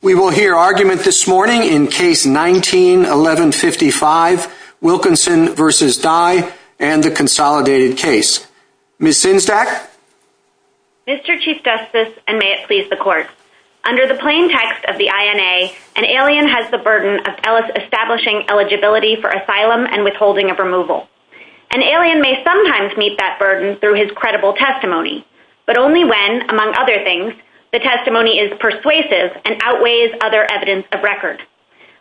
We will hear argument this morning in Case 19-1155, Wilkinson v. Dai, and the Consolidated Case. Ms. Zinsack? Mr. Chief Justice, and may it please the Court, under the plain text of the INA, an alien has the burden of establishing eligibility for asylum and withholding of removal. An alien may sometimes meet that burden through his credible testimony, but only when, among other things, the testimony is persuasive and outweighs other evidence of record.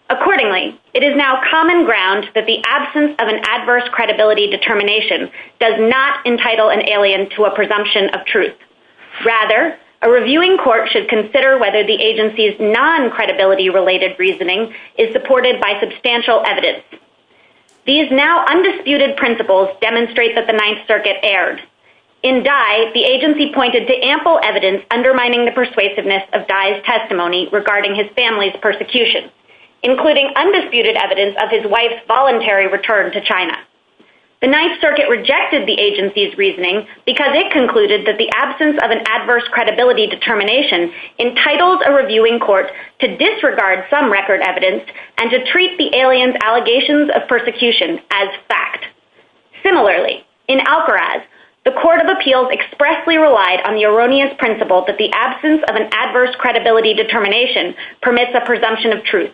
Accordingly, it is now common ground that the absence of an adverse credibility determination does not entitle an alien to a presumption of truth. Rather, a reviewing court should consider whether the agency's non-credibility-related reasoning is supported by substantial evidence. These now-undisputed principles demonstrate that the Ninth Circuit erred. In Dai, the agency pointed to ample evidence undermining the persuasiveness of Dai's testimony regarding his family's persecution, including undisputed evidence of his wife's voluntary return to China. The Ninth Circuit rejected the agency's reasoning because it concluded that the absence of an adverse credibility determination entitles a reviewing court to disregard some record evidence and to treat the alien's allegations of persecution as fact. Similarly, in Algaraz, the Court of Appeals expressly relied on the erroneous principle that the absence of an adverse credibility determination permits a presumption of truth,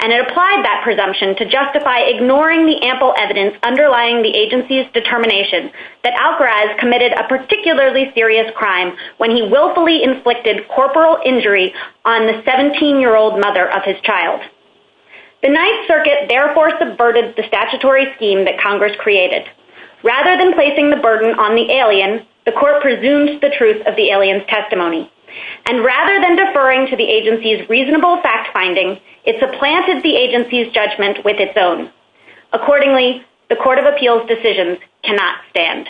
and it applied that presumption to justify ignoring the ample evidence underlying the agency's determination that Algaraz committed a particularly serious crime when he willfully inflicted corporal injury on the 17-year-old mother of his child. The Ninth Circuit therefore subverted the statutory scheme that Congress created. Rather than placing the burden on the alien, the Court presumed the truth of the alien's testimony, and rather than deferring to the agency's reasonable fact-finding, it supplanted the agency's judgment with its own. Accordingly, the Court of Appeals' decisions cannot stand.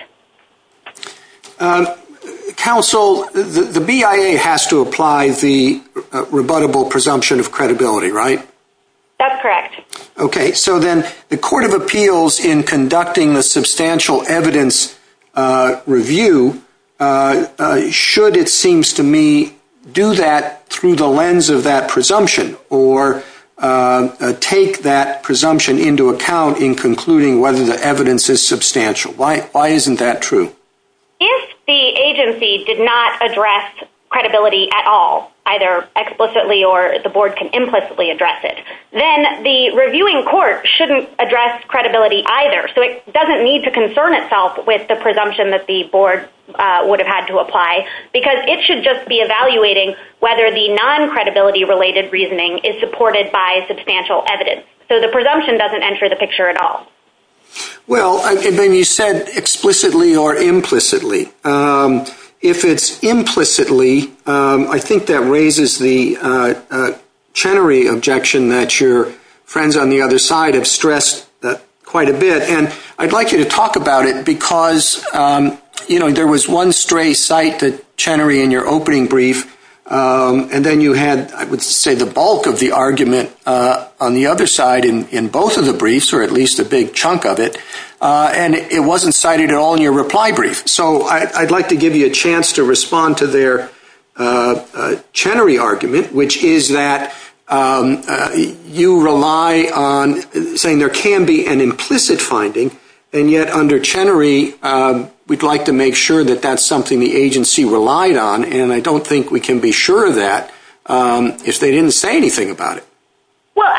Counsel, the BIA has to apply the rebuttable presumption of credibility, right? That's correct. Okay. So then the Court of Appeals, in conducting the substantial evidence review, should, it seems to me, do that through the lens of that presumption or take that presumption into account in concluding whether the evidence is substantial. Why isn't that true? If the agency did not address credibility at all, either explicitly or the board can implicitly address it, then the reviewing court shouldn't address credibility either. So it doesn't need to concern itself with the presumption that the board would have had to apply, because it should just be evaluating whether the non-credibility-related reasoning is supported by substantial evidence. So the presumption doesn't enter the picture at all. Well, and then you said explicitly or implicitly. If it's implicitly, I think that raises the Chenery objection that your friends on the other side have stressed quite a bit. And I'd like you to talk about it, because, you know, there was one stray sight that Chenery, in your opening brief, and then you had, I would say, the bulk of the argument on the other side in both of the briefs, or at least a big chunk of it, and it wasn't cited at all in your reply brief. So I'd like to give you a chance to respond to their Chenery argument, which is that you rely on saying there can be an implicit finding, and yet under Chenery, we'd like to make sure that that's something the agency relied on, and I don't think we can be sure of that if they didn't say anything about it. Well,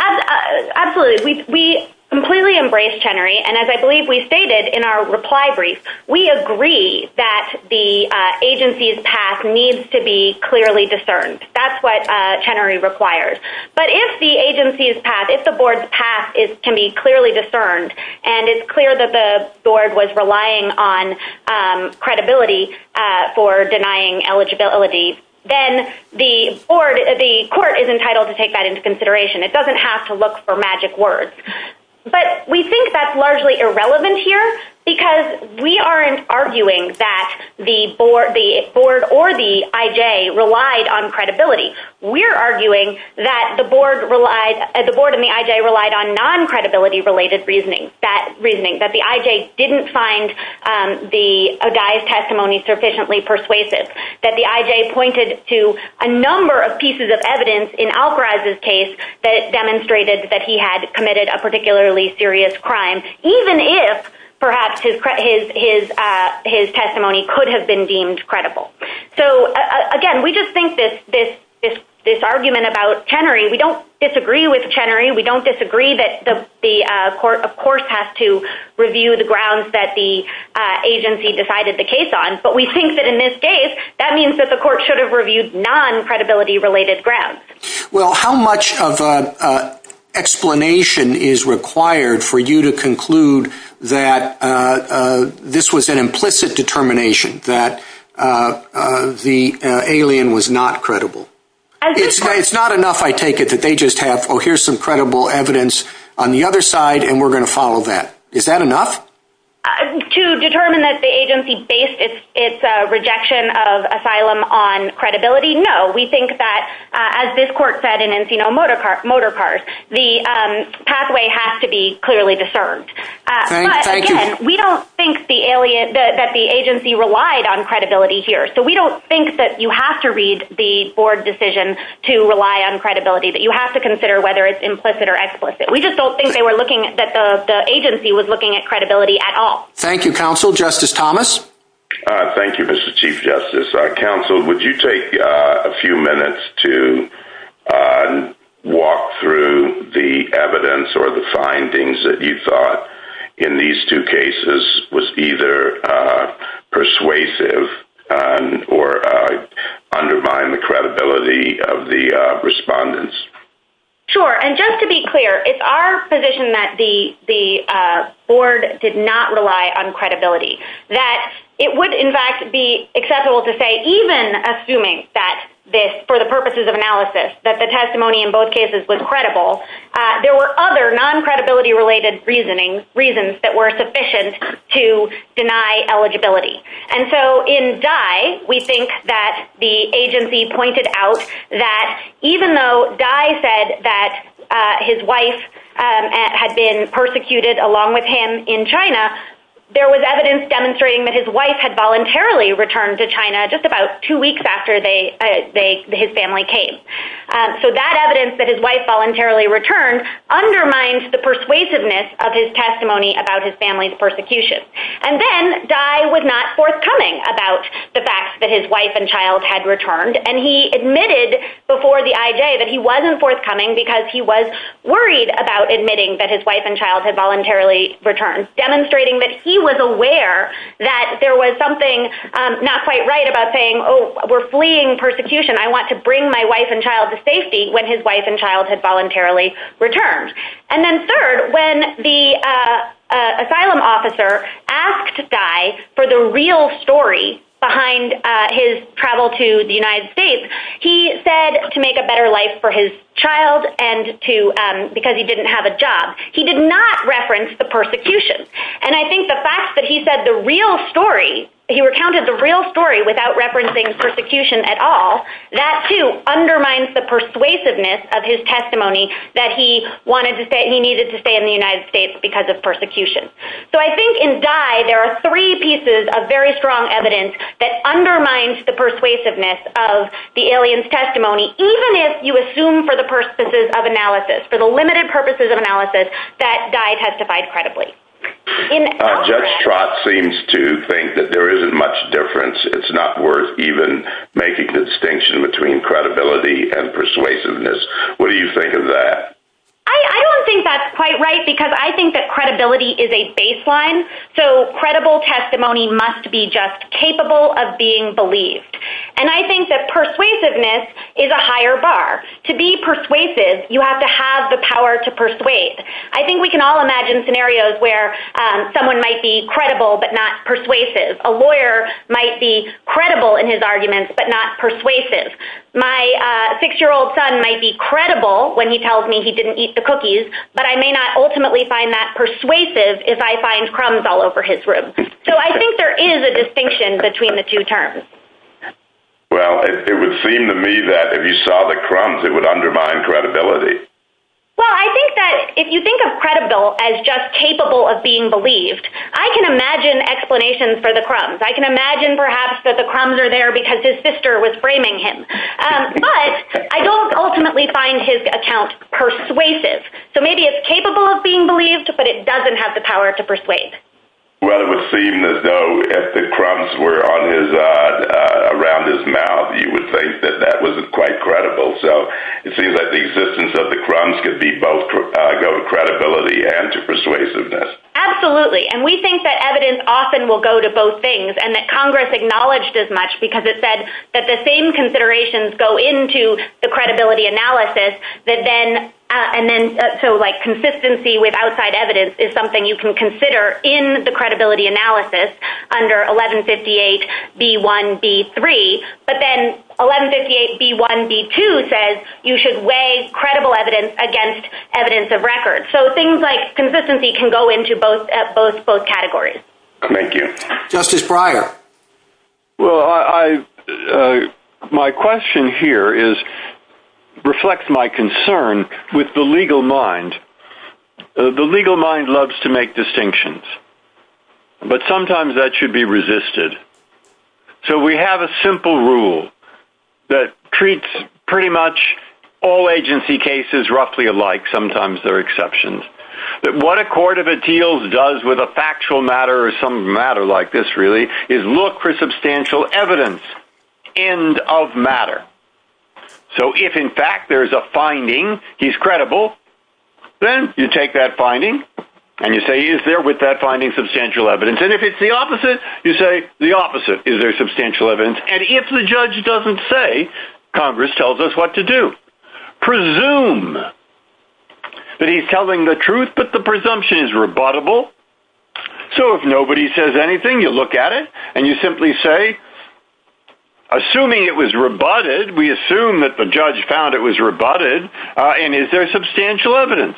absolutely. We completely embrace Chenery, and as I believe we stated in our reply brief, we agree that the agency's path needs to be clearly discerned. That's what Chenery requires. But if the agency's path, if the board's path is to be clearly discerned, and it's the board, the court is entitled to take that into consideration. It doesn't have to look for magic words. But we think that's largely irrelevant here because we aren't arguing that the board or the IJ relied on credibility. We're arguing that the board and the IJ relied on non-credibility-related reasoning, that reasoning, that the IJ didn't find the O'Day's testimony sufficiently persuasive, that the IJ pointed to a number of pieces of evidence in Albrez's case that demonstrated that he had committed a particularly serious crime, even if, perhaps, his testimony could have been deemed credible. So, again, we just think that this argument about Chenery, we don't disagree with Chenery. We don't disagree that the court, of course, has to review the grounds that the agency decided the case on, but we think that in this case, that means that the court should have reviewed non-credibility-related grounds. Well, how much of an explanation is required for you to conclude that this was an implicit determination, that the alien was not credible? It's not enough, I take it, that they just have, oh, here's some credible evidence on the other side, and we're going to follow that. Is that enough? To determine that the agency based its rejection of asylum on credibility, no. We think that, as this court said in Encino Motorcars, the pathway has to be clearly discerned. But, again, we don't think that the agency relied on credibility here. So we don't think that you have to read the board decision to rely on credibility, but you have to consider whether it's implicit or explicit. We just don't think that the agency was looking at credibility at all. Thank you, counsel. Justice Thomas? Thank you, Mr. Chief Justice. Counsel, would you take a few minutes to walk through the evidence or the findings that you thought, in these two cases, was either persuasive or undermined the credibility of the respondents? Sure. And just to be clear, it's our position that the board did not rely on credibility. That it would, in fact, be acceptable to say, even assuming that this, for the purposes of analysis, that the testimony in both cases was credible, there were other non-credibility related reasons that were sufficient to deny eligibility. And so in Dai, we think that the agency pointed out that even though Dai said that his wife had been persecuted along with him in China, there was evidence demonstrating that his wife had voluntarily returned to China just about two weeks after his family came. So that evidence that his wife voluntarily returned undermines the persuasiveness of his testimony about his family's persecution. And then, Dai was not forthcoming about the fact that his wife and child had returned, and he admitted before the IJ that he wasn't forthcoming because he was worried about admitting that his wife and child had voluntarily returned, demonstrating that he was aware that there was something not quite right about saying, oh, we're fleeing persecution, I want to bring my wife and child to safety when his wife and child had voluntarily returned. And then third, when the asylum officer asked Dai for the real story behind his travel to the United States, he said to make a better life for his child because he didn't have a job. He did not reference the persecution. And I think the fact that he said the real story, he recounted the real story without referencing persecution at all, that too undermines the persuasiveness of his testimony that he needed to stay in the United States because of persecution. So I think in Dai, there are three pieces of very strong evidence that undermines the persuasiveness of the alien's testimony, even if you assume for the purposes of analysis, for the limited purposes of analysis, that Dai testified credibly. Judge Trott seems to think that there isn't much difference, it's not worth even making the distinction between credibility and persuasiveness. What do you think of that? I don't think that's quite right because I think that credibility is a baseline. So credible testimony must be just capable of being believed. And I think that persuasiveness is a higher bar. To be persuasive, you have to have the power to persuade. I think we can all imagine scenarios where someone might be credible but not persuasive. A lawyer might be credible in his arguments but not persuasive. My six-year-old son might be credible when he tells me he didn't eat the cookies, but I may not ultimately find that persuasive if I find crumbs all over his room. So I think there is a distinction between the two terms. Well, it would seem to me that if you saw the crumbs, it would undermine credibility. Well, I think that if you think of credible as just capable of being believed, I can imagine explanations for the crumbs. I can imagine perhaps that the crumbs are there because his sister was framing him. But I don't ultimately find his account persuasive. So maybe it's capable of being believed but it doesn't have the power to persuade. Well, it would seem as though if the crumbs were around his mouth, you would think that that wasn't quite credible. So it seems that the existence of the crumbs could be both credibility and persuasiveness. Absolutely. And we think that evidence often will go to both things and that Congress acknowledged as much because it said that the same considerations go into the credibility analysis. So like consistency with outside evidence is something you can consider in the credibility analysis under 1158B1B3. But then 1158B1B2 says you should weigh credible evidence against evidence of record. So things like consistency can go into both categories. Thank you. Justice Breyer. My question here reflects my concern with the legal mind. The legal mind loves to make distinctions. But sometimes that should be resisted. So we have a simple rule that treats pretty much all agency cases roughly alike. Sometimes there are exceptions. But what a court of appeals does with a factual matter or some matter like this really is look for substantial evidence. End of matter. So if in fact there is a finding, he's credible, then you take that finding and you say, is there with that finding substantial evidence? And if it's the opposite, you say the opposite. Is there substantial evidence? And if the judge doesn't say, Congress tells us what to do. Presume that he's telling the truth, but the presumption is rebuttable. So if nobody says anything, you look at it and you simply say, assuming it was rebutted, we assume that the judge found it was rebutted, and is there substantial evidence?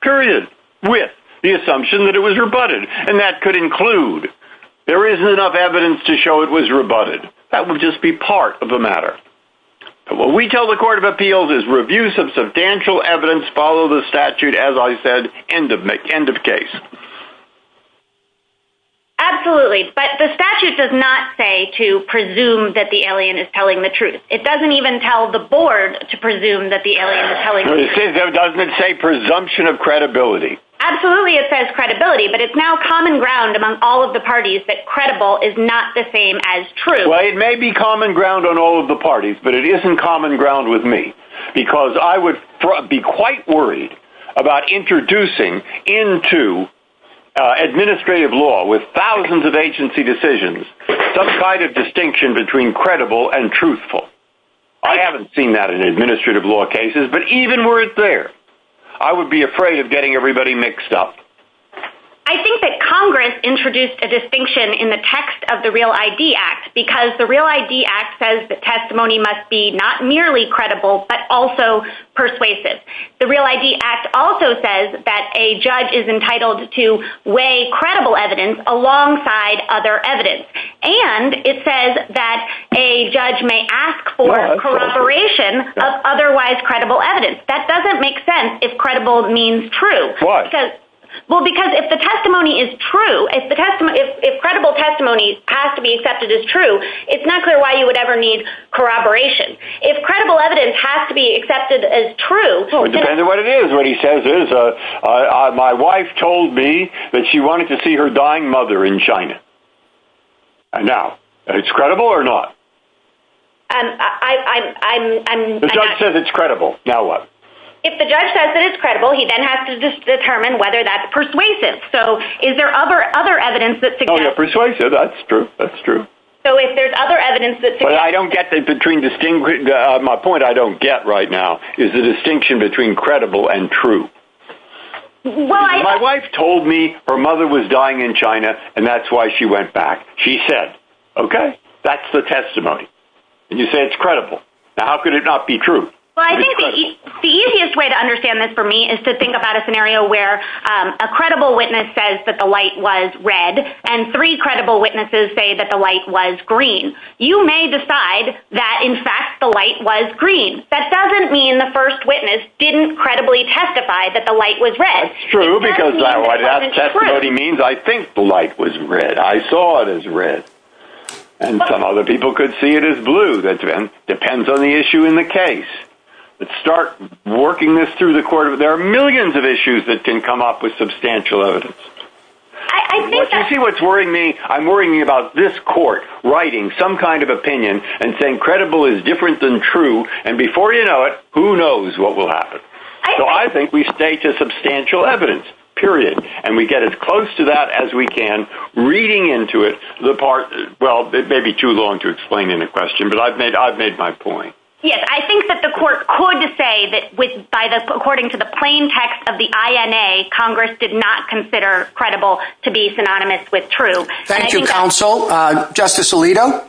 Period. With the assumption that it was rebutted. And that could include, there isn't enough evidence to show it was rebutted. That would just be part of the matter. What we tell the court of appeals is review substantial evidence, follow the statute, as I said, end of case. Absolutely. But the statute does not say to presume that the alien is telling the truth. It doesn't even tell the board to presume that the alien is telling the truth. It doesn't say presumption of credibility. Absolutely it says credibility, but it's now common ground among all of the parties that credible is not the same as true. Well it may be common ground on all of the parties, but it isn't common ground with me. Because I would be quite worried about introducing into administrative law, with thousands of agency decisions, some kind of distinction between credible and truthful. I haven't seen that in administrative law cases, but even were it there, I would be afraid of getting everybody mixed up. I think that Congress introduced a distinction in the text of the Real ID Act. Because the Real ID Act says that testimony must be not merely credible, but also persuasive. The Real ID Act also says that a judge is entitled to weigh credible evidence alongside other evidence. And it says that a judge may ask for corroboration of otherwise credible evidence. That doesn't make sense if credible means true. Why? Because if the testimony is true, if credible testimony has to be accepted as true, it's not clear why you would ever need corroboration. If credible evidence has to be accepted as true... It depends on what it is. What he says is, my wife told me that she wanted to see her dying mother in China. And now, is it credible or not? The judge says it's credible. Now what? If the judge says it's credible, he then has to determine whether that's persuasive. So, is there other evidence that suggests... Oh yeah, persuasive, that's true, that's true. But I don't get the distinction... My point I don't get right now is the distinction between credible and true. My wife told me her mother was dying in China, and that's why she went back. She said, okay, that's the testimony. And you say it's credible. How could it not be true? The easiest way to understand this for me is to think about a scenario where a credible witness says that the light was red, and three credible witnesses say that the light was green. You may decide that, in fact, the light was green. That doesn't mean the first witness didn't credibly testify that the light was red. That's true, because that's what he means. I think the light was red. I saw it as red. And some other people could see it as blue. Depends on the issue in the case. Let's start working this through the court. There are millions of issues that can come up with substantial evidence. But you see what's worrying me? I'm worrying about this court writing some kind of opinion and saying credible is different than true, and before you know it, who knows what will happen. So I think we stay to substantial evidence, period. And we get as close to that as we can, reading into it. Well, it may be too long to explain in a question, but I've made my point. Yes, I think that the court could say that according to the plain text of the INA, Congress did not consider credible to be synonymous with true. Thank you, counsel. Justice Alito?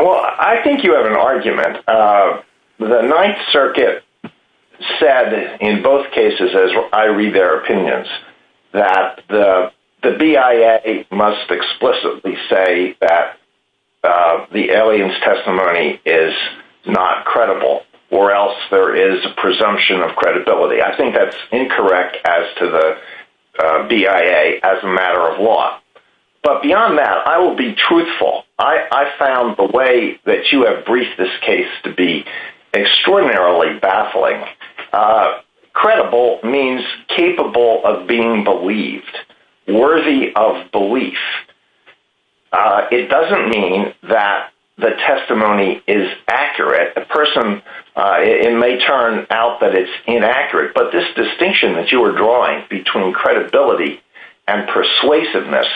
Well, I think you have an argument. The Ninth Circuit said in both cases, as I read their opinions, that the BIA must explicitly say that the alien's testimony is not credible, or else there is a presumption of credibility. I think that's incorrect as to the BIA as a matter of law. But beyond that, I will be truthful. I found the way that you have briefed this case to be extraordinarily baffling. Credible means capable of being believed. Worthy of belief. It doesn't mean that the testimony is accurate. It may turn out that it's inaccurate, but this distinction that you are drawing between credibility and persuasiveness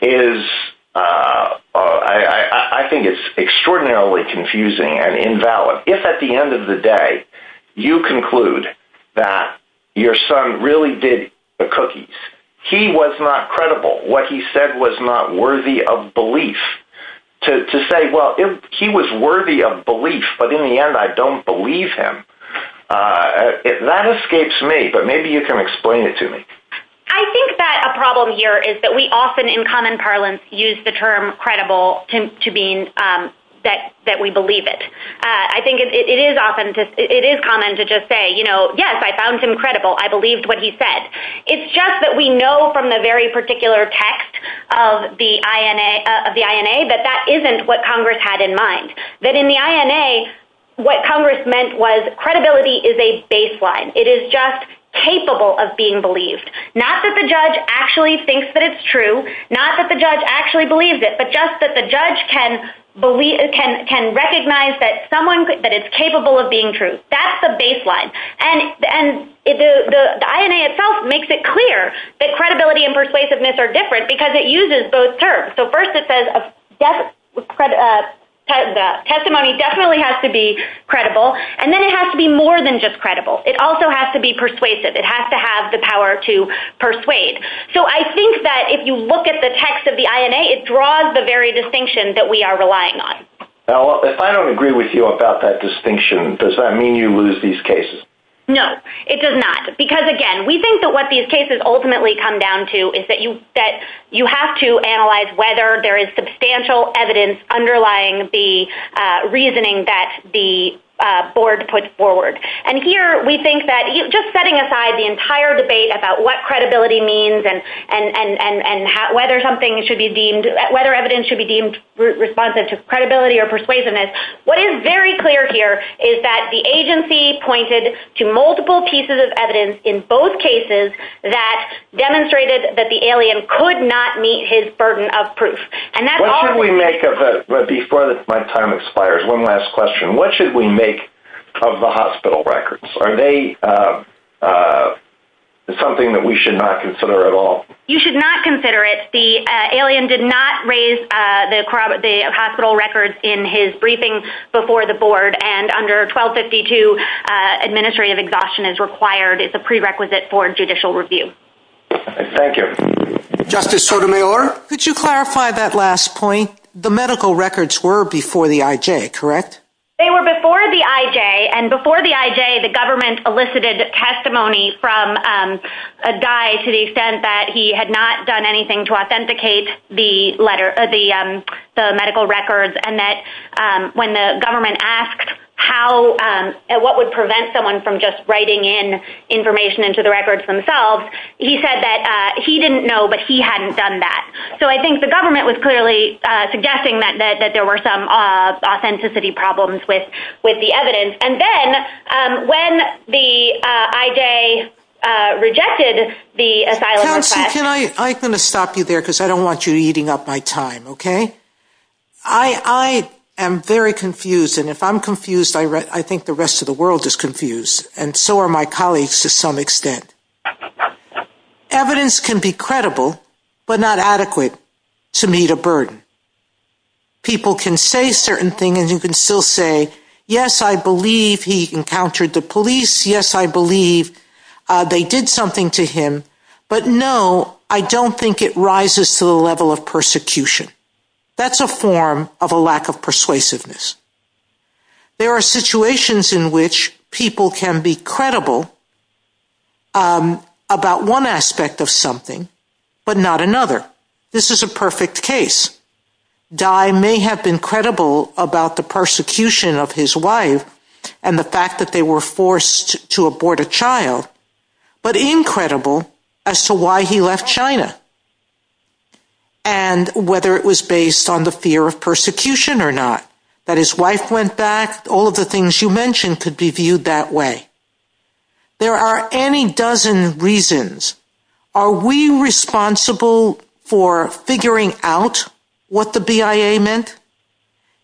is, I think it's extraordinarily confusing and invalid. If at the end of the day, you conclude that your son really did the cookies, he was not credible, what he said was not worthy of belief, to say, well, he was worthy of belief, but in the end I don't believe him, that escapes me, but maybe you can explain it to me. I think that a problem here is that we often, in common parlance, use the term credible to mean that we believe it. I think it is common to just say, yes, I found him credible. I believed what he said. It's just that we know from the very particular text of the INA that that isn't what Congress had in mind. That in the INA, what Congress meant was credibility is a baseline. It is just capable of being believed. Not that the judge actually thinks that it's true, not that the judge actually believes it, but just that the judge can recognize that it's capable of being true. That's the baseline. The INA itself makes it clear that credibility and persuasiveness are different because it uses both terms. First it says testimony definitely has to be credible, and then it has to be more than just credible. It also has to be persuasive. It has to have the power to persuade. I think that if you look at the text of the INA, it draws the very distinction that we are relying on. If I don't agree with you about that distinction, does that mean you lose these cases? No, it does not. Because, again, we think that what these cases ultimately come down to is that you have to analyze whether there is substantial evidence underlying the reasoning that the board puts forward. Just setting aside the entire debate about what credibility means and whether evidence should be deemed responsive to credibility or persuasiveness, what is very clear here is that the agency pointed to multiple pieces of evidence in both cases that demonstrated that the alien could not meet his burden of proof. Before my time expires, one last question. What should we make of the hospital records? Are they something that we should not consider at all? You should not consider it. The alien did not raise the hospital records in his briefing before the board, and under 1252, administrative exhaustion is required. It's a prerequisite for judicial review. Thank you. Justice Sotomayor? Could you clarify that last point? The medical records were before the IJ, correct? They were before the IJ, and before the IJ the government elicited testimony from a guy to the extent that he had not done anything to authenticate the medical records and that when the government asked what would prevent someone from just writing in information into the records themselves, he said that he didn't know but he hadn't done that. So I think the government was clearly suggesting that there were some authenticity problems with the evidence, and then when the IJ rejected the asylum request. I'm going to stop you there because I don't want you eating up my time, okay? I am very confused, and if I'm confused, I think the rest of the world is confused, and so are my colleagues to some extent. Evidence can be credible but not adequate to meet a burden. People can say certain things and you can still say, yes, I believe he encountered the police, yes, I believe they did something to him, but no, I don't think it rises to the level of persecution. That's a form of a lack of persuasiveness. There are situations in which people can be credible about one aspect of something but not another. This is a perfect case. Dai may have been credible about the persecution of his wife and the fact that they were forced to abort a child, but incredible as to why he left China and whether it was based on the fear of persecution or not, that his wife went back, all of the things you mentioned could be viewed that way. There are any dozen reasons. Are we responsible for figuring out what the BIA meant?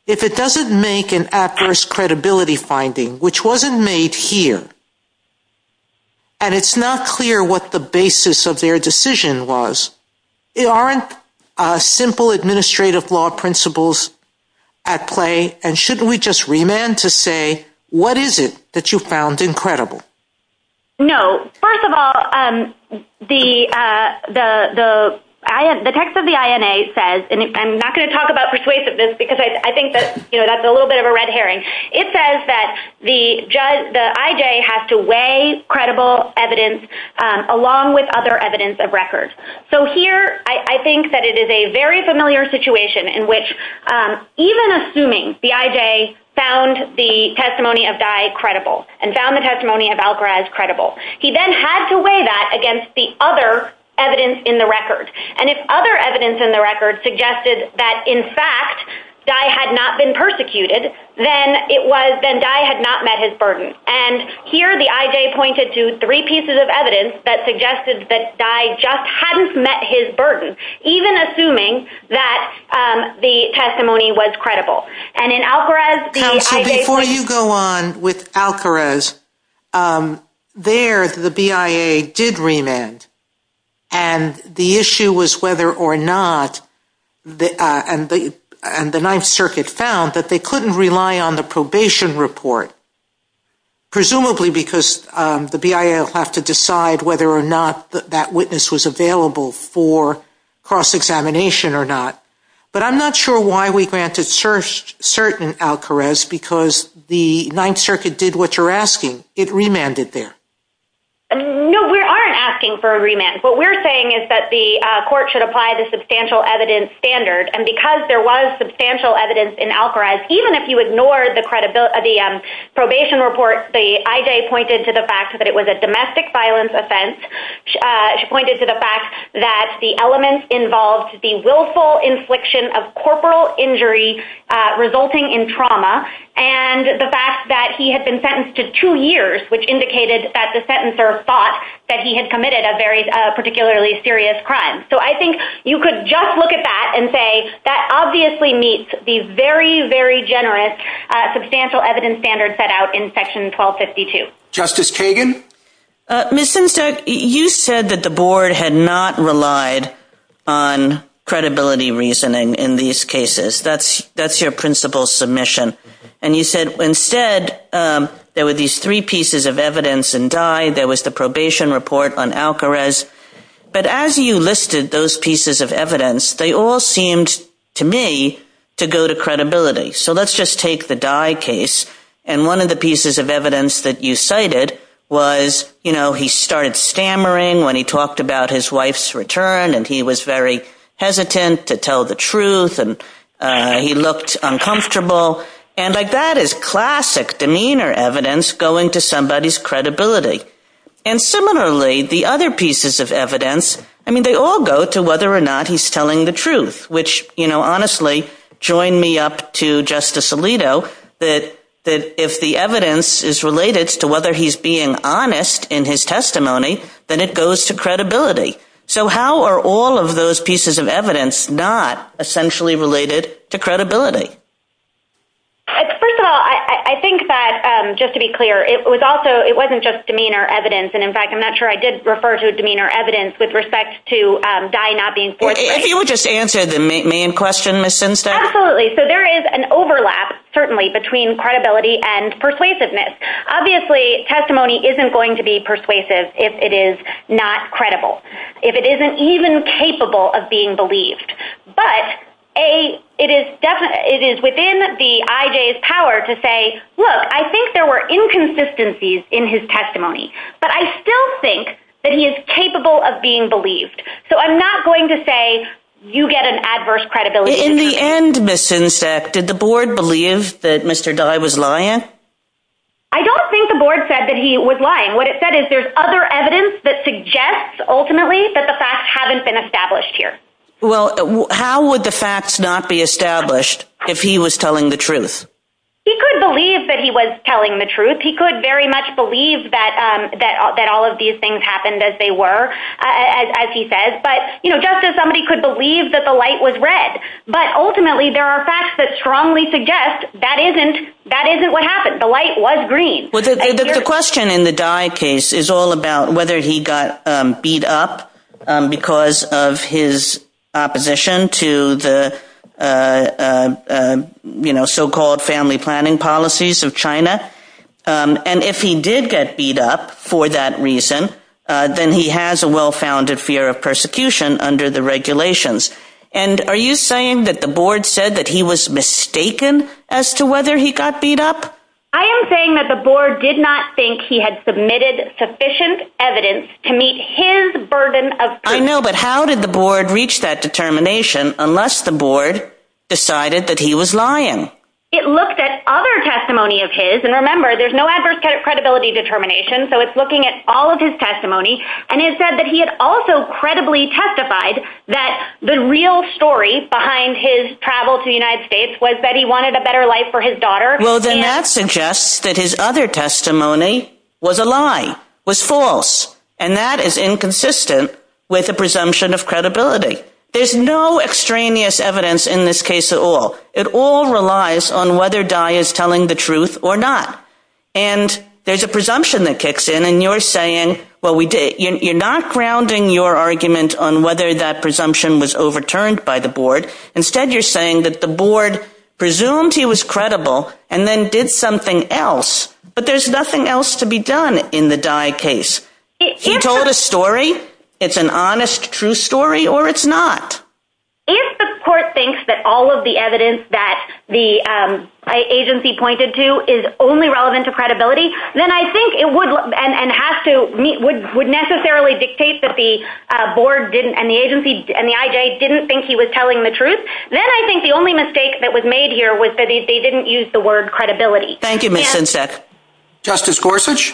If it doesn't make an adverse credibility finding, which wasn't made here, and it's not clear what the basis of their decision was, there aren't simple administrative law principles at play and shouldn't we just remand to say what is it that you found incredible? No. First of all, the text of the INA says, and I'm not going to talk about persuasiveness because I think that's a little bit of a red herring, it says that the IJ has to weigh credible evidence along with other evidence of record. Here I think that it is a very familiar situation in which even assuming the IJ found the testimony of Dai credible and found the testimony of Algaraz credible, he then has to weigh that against the other evidence in the record. If other evidence in the record suggested that, in fact, Dai had not been persecuted, then Dai had not met his burden. Here the IJ pointed to three pieces of evidence that suggested that Dai just hadn't met his burden, even assuming that the testimony was credible. Before you go on with Algaraz, there the BIA did remand, and the issue was whether or not, and the Ninth Circuit found that they couldn't rely on the probation report, presumably because the BIA would have to decide whether or not that witness was available for cross-examination or not. But I'm not sure why we granted certain Algaraz because the Ninth Circuit did what you're asking. It remanded there. No, we aren't asking for a remand. What we're saying is that the court should apply the substantial evidence standard, and because there was substantial evidence in Algaraz, even if you ignore the probation report, the IJ pointed to the fact that it was a domestic violence offense. She pointed to the fact that the elements involved the willful infliction of corporal injury resulting in trauma, and the fact that he had been sentenced to two years, which indicated that the sentencer thought that he had committed a particularly serious crime. So I think you could just look at that and say, that obviously meets the very, very generous substantial evidence standard set out in Section 1252. Justice Kagan? Ms. Simpson, you said that the board had not relied on credibility reasoning in these cases. That's your principal submission. And you said, instead, there were these three pieces of evidence in Dye. There was the probation report on Algaraz. But as you listed those pieces of evidence, they all seemed to me to go to credibility. So let's just take the Dye case. And one of the pieces of evidence that you cited was, you know, he started stammering when he talked about his wife's return, and he was very hesitant to tell the truth, and he looked uncomfortable. And that is classic demeanor evidence going to somebody's credibility. And similarly, the other pieces of evidence, I mean, they all go to whether or not he's telling the truth, which, you know, honestly, join me up to Justice Alito, that if the evidence is related to whether he's being honest in his testimony, then it goes to credibility. So how are all of those pieces of evidence not essentially related to credibility? First of all, I think that, just to be clear, it was also – it wasn't just demeanor evidence. And, in fact, I'm not sure I did refer to demeanor evidence with respect to Dye not being guilty. If you would just answer the main question, Ms. Stinson. Absolutely. So there is an overlap, certainly, between credibility and persuasiveness. Obviously, testimony isn't going to be persuasive if it is not credible, if it isn't even capable of being believed. But it is within the IJ's power to say, look, I think there were inconsistencies in his testimony, but I still think that he is capable of being believed. So I'm not going to say you get an adverse credibility. In the end, Ms. Sinseck, did the board believe that Mr. Dye was lying? I don't think the board said that he was lying. What it said is there's other evidence that suggests, ultimately, that the facts haven't been established here. Well, how would the facts not be established if he was telling the truth? He could believe that he was telling the truth. He could very much believe that all of these things happened as they were, as he says. But just as somebody could believe that the light was red. But ultimately, there are facts that strongly suggest that isn't what happened. The light was green. The question in the Dye case is all about whether he got beat up because of his opposition to the so-called family planning policies of China. And if he did get beat up for that reason, then he has a well-founded fear of persecution under the regulations. And are you saying that the board said that he was mistaken as to whether he got beat up? I am saying that the board did not think he had submitted sufficient evidence to meet his burden of proof. I know, but how did the board reach that determination unless the board decided that he was lying? It looked at other testimony of his. And remember, there's no adverse credibility determination, so it's looking at all of his testimony. And it said that he had also credibly testified that the real story behind his travel to the United States was that he wanted a better life for his daughter. Well, then that suggests that his other testimony was a lie, was false. And that is inconsistent with the presumption of credibility. There's no extraneous evidence in this case at all. It all relies on whether Dai is telling the truth or not. And there's a presumption that kicks in, and you're saying, well, you're not grounding your argument on whether that presumption was overturned by the board. Instead, you're saying that the board presumed he was credible and then did something else. But there's nothing else to be done in the Dai case. He told a story. It's an honest, true story, or it's not. If the court thinks that all of the evidence that the agency pointed to is only relevant to credibility, then I think it would necessarily dictate that the board and the agency and the IJ didn't think he was telling the truth. Then I think the only mistake that was made here was that they didn't use the word credibility. Thank you, Ms. Sinsek. Justice Gorsuch?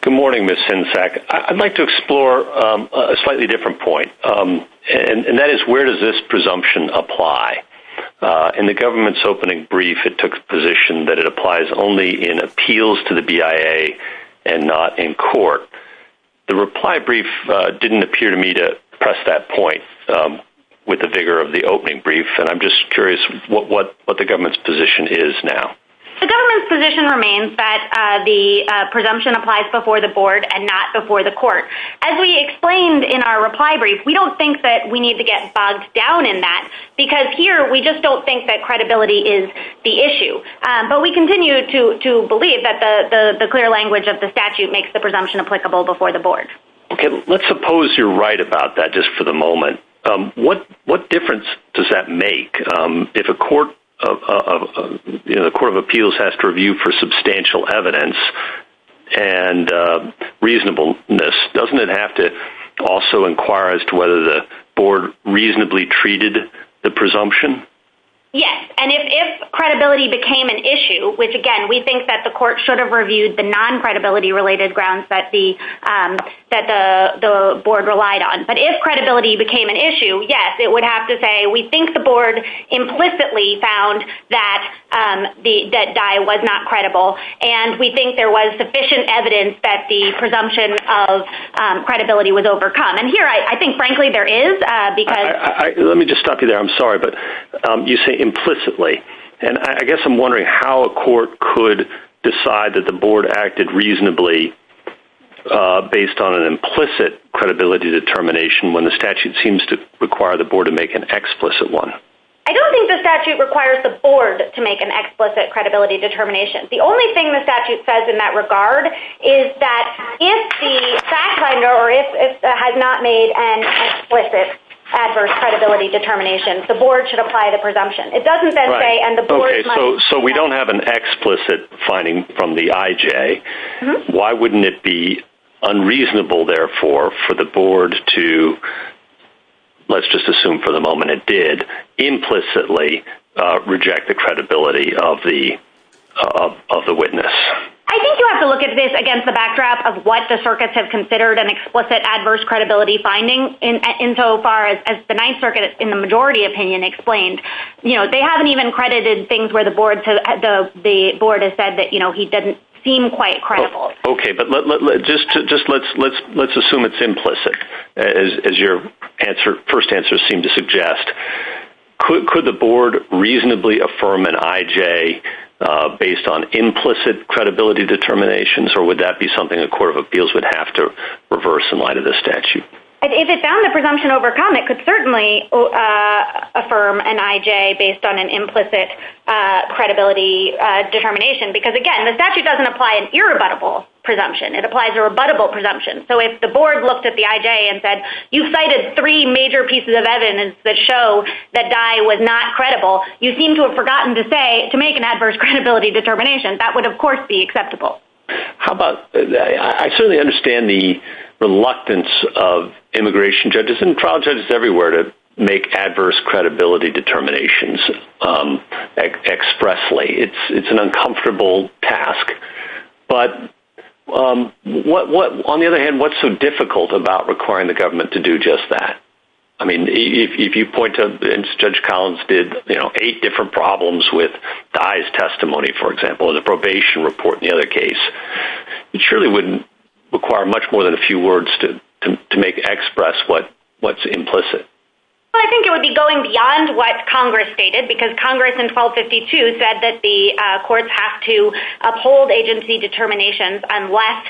Good morning, Ms. Sinsek. I'd like to explore a slightly different point, and that is where does this presumption apply? In the government's opening brief, it took the position that it applies only in appeals to the BIA and not in court. The reply brief didn't appear to me to press that point with the vigor of the opening brief, and I'm just curious what the government's position is now. The government's position remains that the presumption applies before the board and not before the court. As we explained in our reply brief, we don't think that we need to get bogged down in that, because here we just don't think that credibility is the issue. But we continue to believe that the clear language of the statute makes the presumption applicable before the board. Let's suppose you're right about that just for the moment. What difference does that make? If a court of appeals has to review for substantial evidence and reasonableness, doesn't it have to also inquire as to whether the board reasonably treated the presumption? Yes, and if credibility became an issue, which, again, we think that the court should have reviewed the non-credibility-related grounds that the board relied on. But if credibility became an issue, yes, it would have to say, we think the board implicitly found that Dye was not credible, and we think there was sufficient evidence that the presumption of credibility was overcome. And here I think, frankly, there is, because- Let me just stop you there. I'm sorry, but you say implicitly, and I guess I'm wondering how a court could decide that the board acted reasonably based on an implicit credibility determination when the statute seems to require the board to make an explicit one. I don't think the statute requires the board to make an explicit credibility determination. The only thing the statute says in that regard is that if the fact finder or if it had not made an explicit adverse credibility determination, the board should apply the presumption. It doesn't say- Okay, so we don't have an explicit finding from the IJ. Why wouldn't it be unreasonable, therefore, for the board to, let's just assume for the moment it did, implicitly reject the credibility of the witness? I think you have to look at this against the backdrop of what the circuits have considered an explicit adverse credibility finding insofar as the Ninth Circuit, in the majority opinion, explained. They haven't even credited things where the board has said that he doesn't seem quite credible. Okay, but let's assume it's implicit, as your first answer seemed to suggest. Could the board reasonably affirm an IJ based on implicit credibility determinations, or would that be something the Court of Appeals would have to reverse in light of the statute? If it found the presumption overcome, it could certainly affirm an IJ based on an implicit credibility determination, because, again, the statute doesn't apply an irrebuttable presumption. It applies a rebuttable presumption. So if the board looked at the IJ and said, you cited three major pieces of evidence that show that Dye was not credible, you seem to have forgotten to make an adverse credibility determination. That would, of course, be acceptable. I certainly understand the reluctance of immigration judges and trial judges everywhere to make adverse credibility determinations expressly. It's an uncomfortable task. But on the other hand, what's so difficult about requiring the government to do just that? I mean, if you point to, as Judge Collins did, eight different problems with Dye's testimony, for example, or the probation report in the other case, it surely wouldn't require much more than a few words to express what's implicit. Well, I think it would be going beyond what Congress stated, because Congress in 1252 said that the courts have to uphold agency determinations unless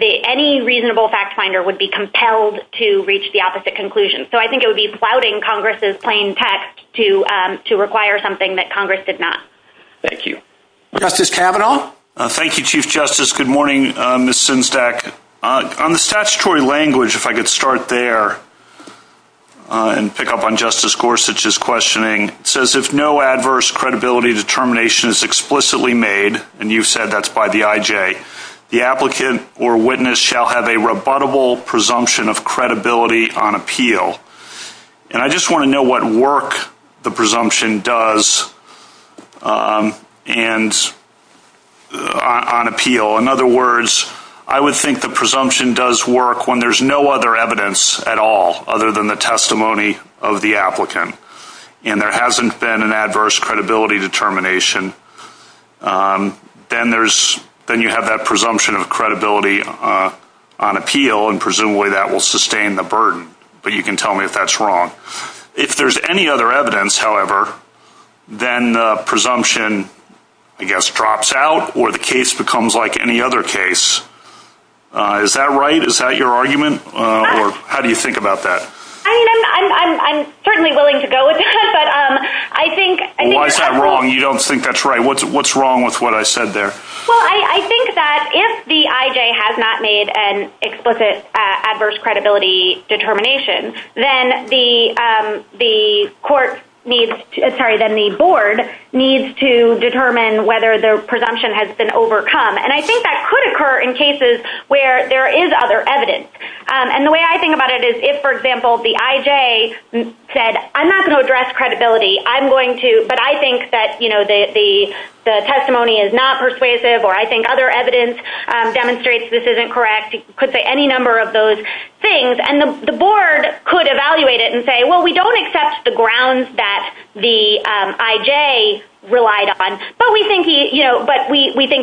any reasonable fact finder would be compelled to reach the opposite conclusion. So I think it would be flouting Congress's plain text to require something that Congress did not. Thank you. Justice Kavanaugh? Thank you, Chief Justice. Good morning, Ms. Synstad. On the statutory language, if I could start there and pick up on Justice Gorsuch's questioning. It says, if no adverse credibility determination is explicitly made, and you've said that's by the IJ, the applicant or witness shall have a rebuttable presumption of credibility on appeal. And I just want to know what work the presumption does on appeal. In other words, I would think the presumption does work when there's no other evidence at all, other than the testimony of the applicant, and there hasn't been an adverse credibility determination. Then you have that presumption of credibility on appeal, and presumably that will sustain the burden. But you can tell me if that's wrong. If there's any other evidence, however, then the presumption, I guess, drops out, or the case becomes like any other case. Is that right? Is that your argument? Or how do you think about that? I mean, I'm certainly willing to go with it. Why is that wrong? You don't think that's right. What's wrong with what I said there? Well, I think that if the IJ has not made an explicit adverse credibility determination, then the board needs to determine whether their presumption has been overcome. And I think that could occur in cases where there is other evidence. And the way I think about it is if, for example, the IJ said, I'm not going to address credibility, but I think that the testimony is not persuasive or I think other evidence demonstrates this isn't correct, you could say any number of those things. And the board could evaluate it and say, well, we don't accept the grounds that the IJ relied on, but we think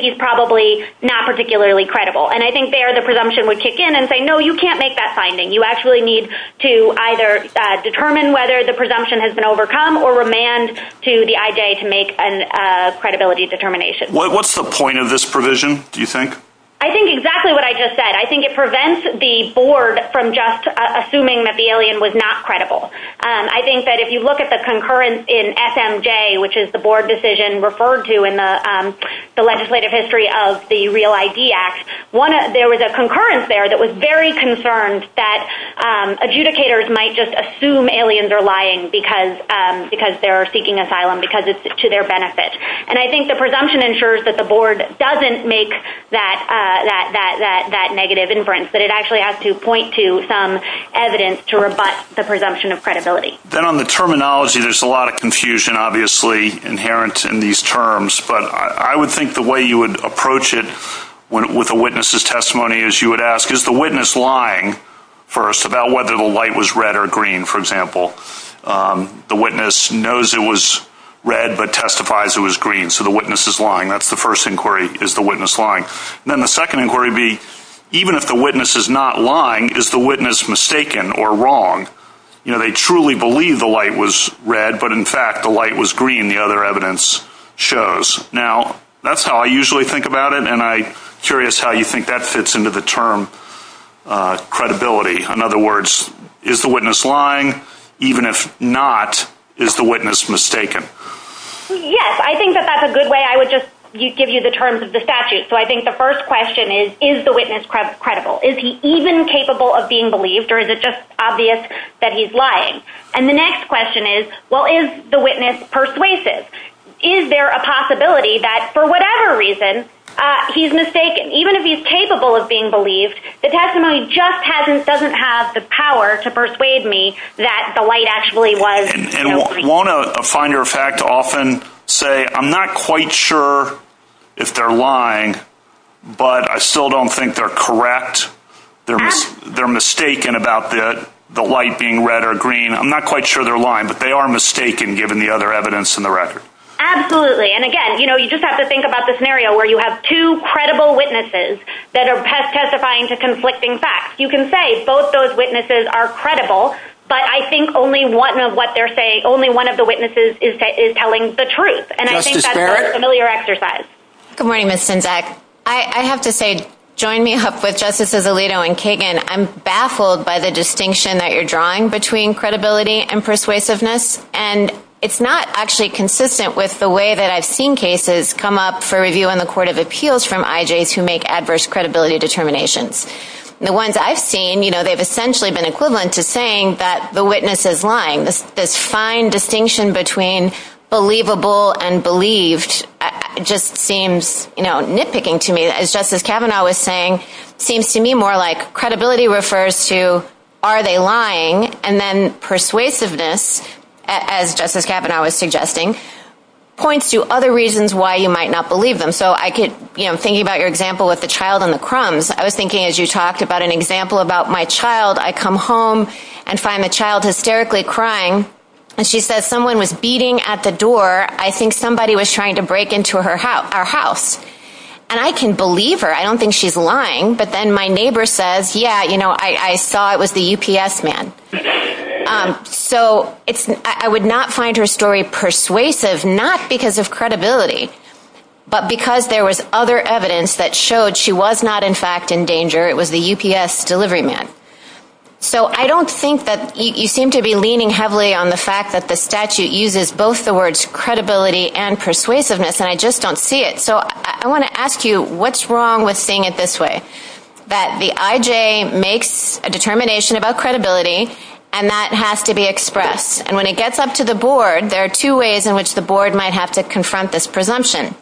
he's probably not particularly credible. And I think there the presumption would kick in and say, no, you can't make that finding. You actually need to either determine whether the presumption has been overcome or remand to the IJ to make a credibility determination. What's the point of this provision, do you think? I think exactly what I just said. I think it prevents the board from just assuming that the alien was not credible. I think that if you look at the concurrence in SMJ, which is the board decision referred to in the legislative history of the Real ID Act, there was a concurrence there that was very concerned that adjudicators might just assume aliens are lying because they're seeking asylum because it's to their benefit. And I think the presumption ensures that the board doesn't make that negative inference, that it actually has to point to some evidence to rebut the presumption of credibility. Then on the terminology, there's a lot of confusion, obviously, inherent in these terms, but I would think the way you would approach it with a witness's testimony is you would ask, is the witness lying first about whether the light was red or green, for example? The witness knows it was red but testifies it was green, so the witness is lying. That's the first inquiry, is the witness lying? Then the second inquiry would be, even if the witness is not lying, is the witness mistaken or wrong? They truly believe the light was red, but in fact the light was green, the other evidence shows. Now, that's how I usually think about it, and I'm curious how you think that fits into the term credibility. In other words, is the witness lying? Even if not, is the witness mistaken? Yes, I think that that's a good way. I would just give you the terms of the statute. So I think the first question is, is the witness credible? Is he even capable of being believed, or is it just obvious that he's lying? And the next question is, well, is the witness persuasive? Is there a possibility that, for whatever reason, he's mistaken? Even if he's capable of being believed, the testimony just doesn't have the power to persuade me that the light actually was green. And won't a finder of fact often say, I'm not quite sure if they're lying, but I still don't think they're correct? They're mistaken about the light being red or green. I'm not quite sure they're lying, but they are mistaken, given the other evidence in the record. Absolutely, and again, you just have to think about the scenario where you have two credible witnesses that are testifying to conflicting facts. You can say both those witnesses are credible, but I think only one of what they're saying, only one of the witnesses is telling the truth. And I think that's a very familiar exercise. Good morning, Ms. Finzek. I have to say, join me up with Justices Alito and Kagan. I'm baffled by the distinction that you're drawing between credibility and persuasiveness. And it's not actually consistent with the way that I've seen cases come up for review in the Court of Appeals from IJs who make adverse credibility determinations. The ones I've seen, they've essentially been equivalent to saying that the witness is lying. This fine distinction between believable and believed just seems nitpicking to me. As Justice Kavanaugh was saying, it seems to me more like credibility refers to, are they lying? And then persuasiveness, as Justice Kavanaugh was suggesting, points to other reasons why you might not believe them. Thinking about your example with the child and the crumbs, I was thinking, as you talked about an example about my child, I come home and find the child hysterically crying, and she says, someone was beating at the door. I think somebody was trying to break into our house. And I can believe her. I don't think she's lying. But then my neighbor says, yeah, I saw it was the UPS man. So I would not find her story persuasive, not because of credibility, but because there was other evidence that showed she was not, in fact, in danger. It was the UPS delivery man. So I don't think that you seem to be leaning heavily on the fact that the statute uses both the words credibility and persuasiveness, and I just don't see it. So I want to ask you, what's wrong with seeing it this way, that the IJ makes a determination about credibility, and that has to be expressed. And when it gets up to the board, there are two ways in which the board might have to confront this presumption.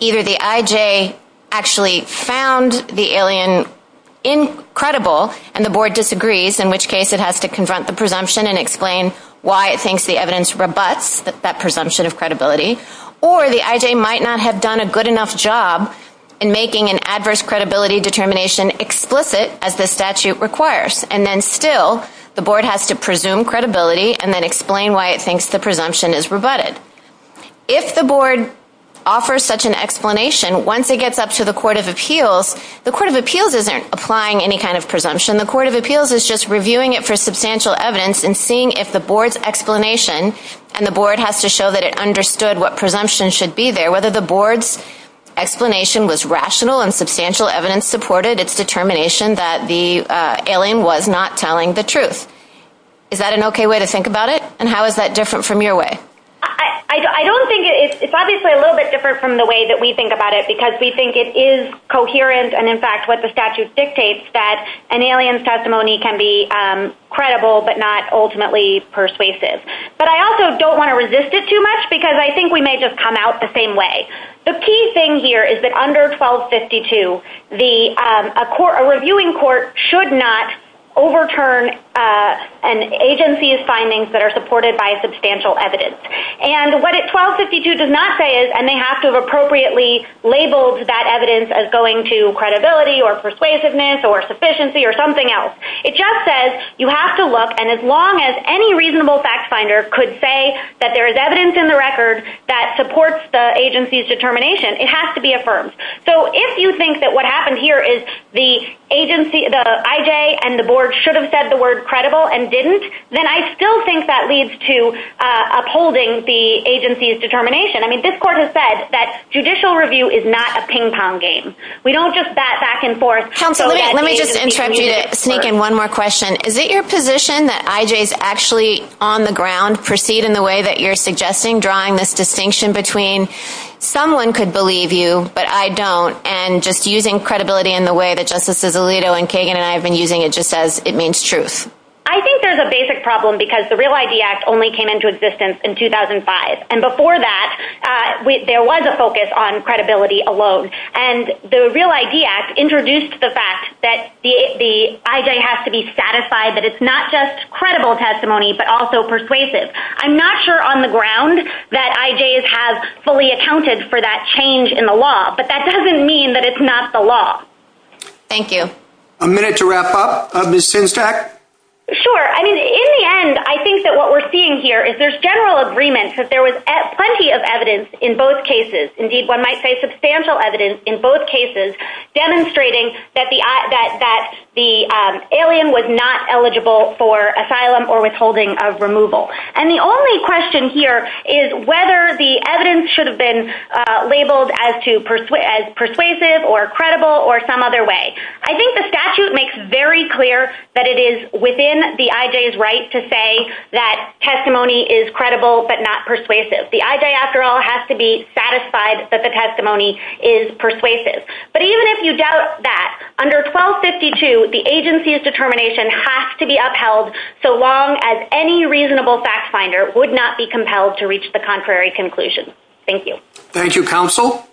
Either the IJ actually found the alien credible, and the board disagrees, in which case it has to confront the presumption and explain why it thinks the evidence rebuts that presumption of credibility. Or the IJ might not have done a good enough job in making an adverse credibility determination explicit, as the statute requires. And then still, the board has to presume credibility and then explain why it thinks the presumption is rebutted. If the board offers such an explanation, once it gets up to the Court of Appeals, the Court of Appeals isn't applying any kind of presumption. The Court of Appeals is just reviewing it for substantial evidence and seeing if the board's explanation, and the board has to show that it understood what presumption should be there, whether the board's explanation was rational and substantial evidence supported its determination that the alien was not telling the truth. Is that an okay way to think about it? And how is that different from your way? I don't think it is. It's obviously a little bit different from the way that we think about it, because we think it is coherent and, in fact, what the statute dictates, that an alien's testimony can be credible but not ultimately persuasive. But I also don't want to resist it too much, because I think we may just come out the same way. The key thing here is that under 1252, a reviewing court should not overturn an agency's findings that are supported by substantial evidence. And what 1252 does not say is, and they have to have appropriately labeled that evidence as going to credibility or persuasiveness or sufficiency or something else, it just says you have to look, and as long as any reasonable fact finder could say that there is evidence in the record that supports the agency's determination, it has to be affirmed. So if you think that what happened here is the IJ and the board should have said the word credible and didn't, then I still think that leads to upholding the agency's determination. I mean, this court has said that judicial review is not a ping-pong game. We don't just bat back and forth. Let me just interrupt you to sneak in one more question. Is it your position that IJs actually on the ground proceed in the way that you're suggesting, drawing this distinction between someone could believe you but I don't, and just using credibility in the way that Justices Alito and Kagan and I have been using it just as it means truth? I think there's a basic problem, because the Real ID Act only came into existence in 2005. And before that, there was a focus on credibility alone. And the Real ID Act introduced the fact that the IJ has to be satisfied that it's not just credible testimony but also persuasive. I'm not sure on the ground that IJs have fully accounted for that change in the law, but that doesn't mean that it's not the law. Thank you. A minute to wrap up. Ms. Chinstack? Sure. I mean, in the end, I think that what we're seeing here is there's general agreement that there was plenty of evidence in both cases. Indeed, one might say substantial evidence in both cases demonstrating that the alien was not eligible for asylum or withholding of removal. And the only question here is whether the evidence should have been labeled as persuasive or credible or some other way. I think the statute makes very clear that it is within the IJ's right to say that testimony is credible but not persuasive. The IJ, after all, has to be satisfied that the testimony is persuasive. But even if you doubt that, under 1252, the agency's determination has to be upheld so long as any reasonable fact finder would not be compelled to reach the contrary conclusion. Thank you. Thank you, Counsel.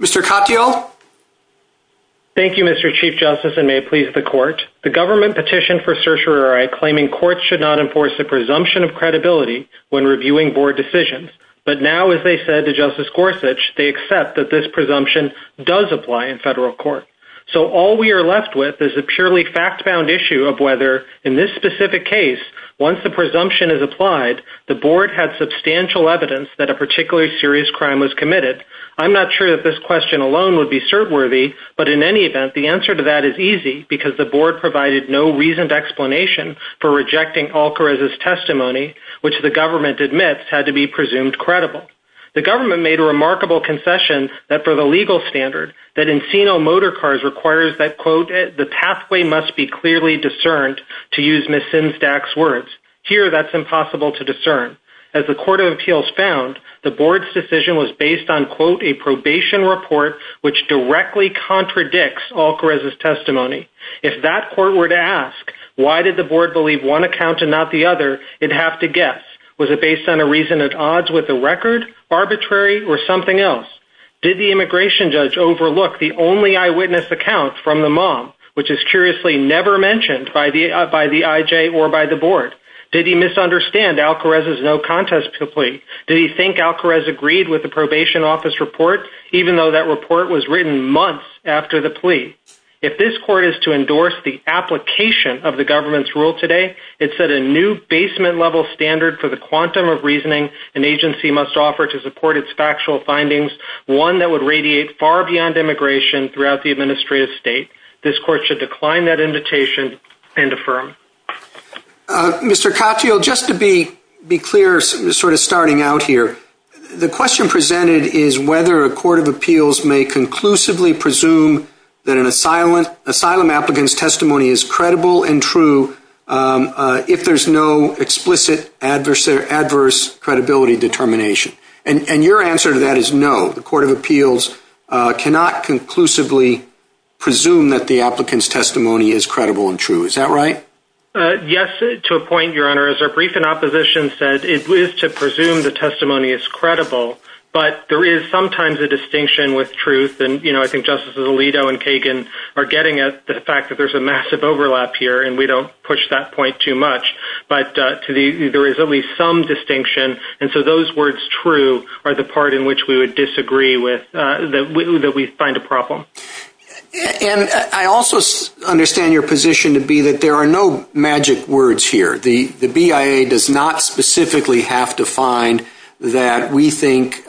Mr. Katyal? Thank you, Mr. Chief Justice, and may it please the Court. The government petitioned for certiorari claiming courts should not enforce a presumption of credibility when reviewing board decisions. But now, as they said to Justice Gorsuch, they accept that this presumption does apply in federal court. So all we are left with is a purely fact-found issue of whether, in this specific case, once the presumption is applied, the board had substantial evidence that a particularly serious crime was committed. I'm not sure that this question alone would be cert-worthy, but in any event, the answer to that is easy because the board provided no reasoned explanation for rejecting Alcarez's testimony, which the government admits had to be presumed credible. The government made a remarkable concession that for the legal standard that Encino Motorcars requires that, quote, the pathway must be clearly discerned, to use Ms. Sinzdak's words. Here, that's impossible to discern. As the Court of Appeals found, the board's decision was based on, quote, a probation report which directly contradicts Alcarez's testimony. If that court were to ask, why did the board believe one account and not the other, it'd have to guess, was it based on a reason at odds with the record, arbitrary, or something else? Did the immigration judge overlook the only eyewitness account from the mom, which is curiously never mentioned by the IJ or by the board? Did he misunderstand Alcarez's no-contest plea? Did he think Alcarez agreed with the probation office report, even though that report was written months after the plea? If this court is to endorse the application of the government's rule today, it's that a new basement-level standard for the quantum of reasoning an agency must offer to support its factual findings, one that would radiate far beyond immigration throughout the administrative state. This court should decline that invitation and affirm. Mr. Cotfield, just to be clear, sort of starting out here, the question presented is whether a Court of Appeals may conclusively presume that an asylum applicant's testimony is credible and true if there's no explicit adverse credibility determination. And your answer to that is no. The Court of Appeals cannot conclusively presume that the applicant's testimony is credible and true. Is that right? Yes, to a point, Your Honor. As our brief in opposition said, it is to presume the testimony is credible, but there is sometimes a distinction with truth. And, you know, I think Justices Alito and Kagan are getting at the fact that there's a massive overlap here, and we don't push that point too much. But there is at least some distinction, and so those words, true, are the part in which we would disagree with, that we find a problem. And I also understand your position to be that there are no magic words here. The BIA does not specifically have to find that we think –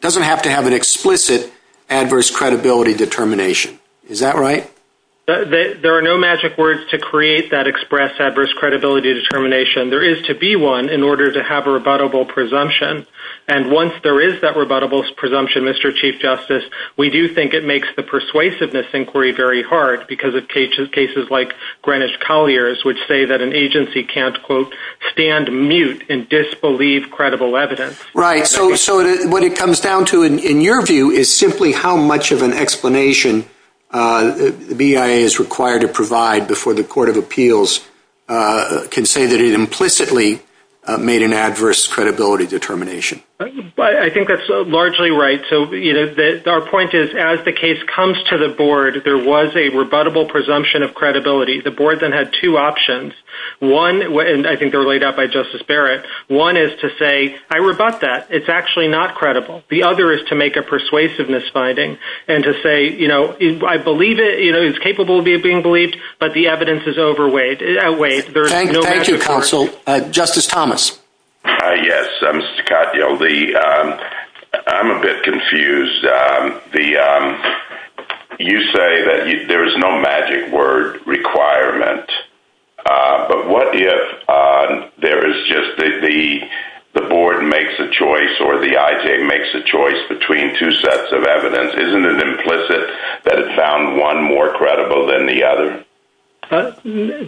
doesn't have to have an explicit adverse credibility determination. Is that right? There are no magic words to create that express adverse credibility determination. There is to be one in order to have a rebuttable presumption. And once there is that rebuttable presumption, Mr. Chief Justice, we do think it makes the persuasiveness inquiry very hard, because of cases like Greenwich Collier's, which say that an agency can't, quote, stand mute and disbelieve credible evidence. Right. So what it comes down to, in your view, is simply how much of an explanation the BIA is required to provide before the Court of Appeals can say that it implicitly made an adverse credibility determination. I think that's largely right. So our point is, as the case comes to the board, there was a rebuttable presumption of credibility. The board then had two options. One – and I think they were laid out by Justice Barrett – one is to say, I rebut that. It's actually not credible. The other is to make a persuasiveness finding and to say, you know, I believe it. You know, it's capable of being believed, but the evidence is outweighed. Thank you, counsel. Justice Thomas? Yes, Mr. Cotdiel. I'm a bit confused. You say that there's no magic word requirement. But what if there is just the board makes a choice or the IJ makes a choice between two sets of evidence? Isn't it implicit that it found one more credible than the other?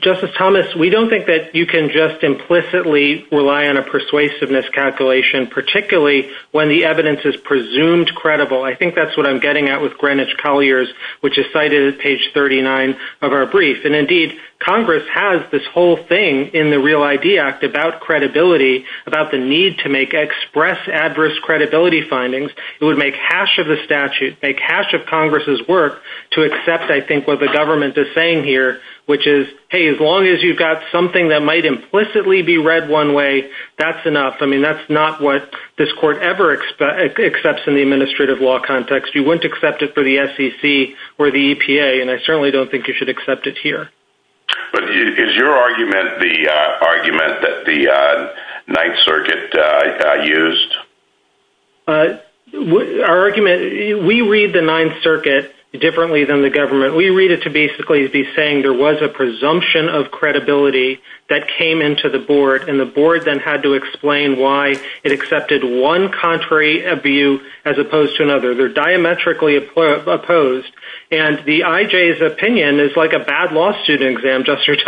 Justice Thomas, we don't think that you can just implicitly rely on a persuasiveness calculation, particularly when the evidence is presumed credible. I think that's what I'm getting at with Greenwich Colliers, which is cited at page 39 of our brief. And indeed, Congress has this whole thing in the Real ID Act about credibility, about the need to make express adverse credibility findings. It would make hash of the statute, make hash of Congress's work to accept, I think, what the government is saying here, which is, hey, as long as you've got something that might implicitly be read one way, that's enough. I mean, that's not what this court ever accepts in the administrative law context. You wouldn't accept it for the SEC or the EPA, and I certainly don't think you should accept it here. But is your argument the argument that the Ninth Circuit used? Our argument, we read the Ninth Circuit differently than the government. We read it to basically be saying there was a presumption of credibility that came into the board, and the board then had to explain why it accepted one contrary view as opposed to another. They're diametrically opposed. And the IJ's opinion is like a bad law student exam, Justice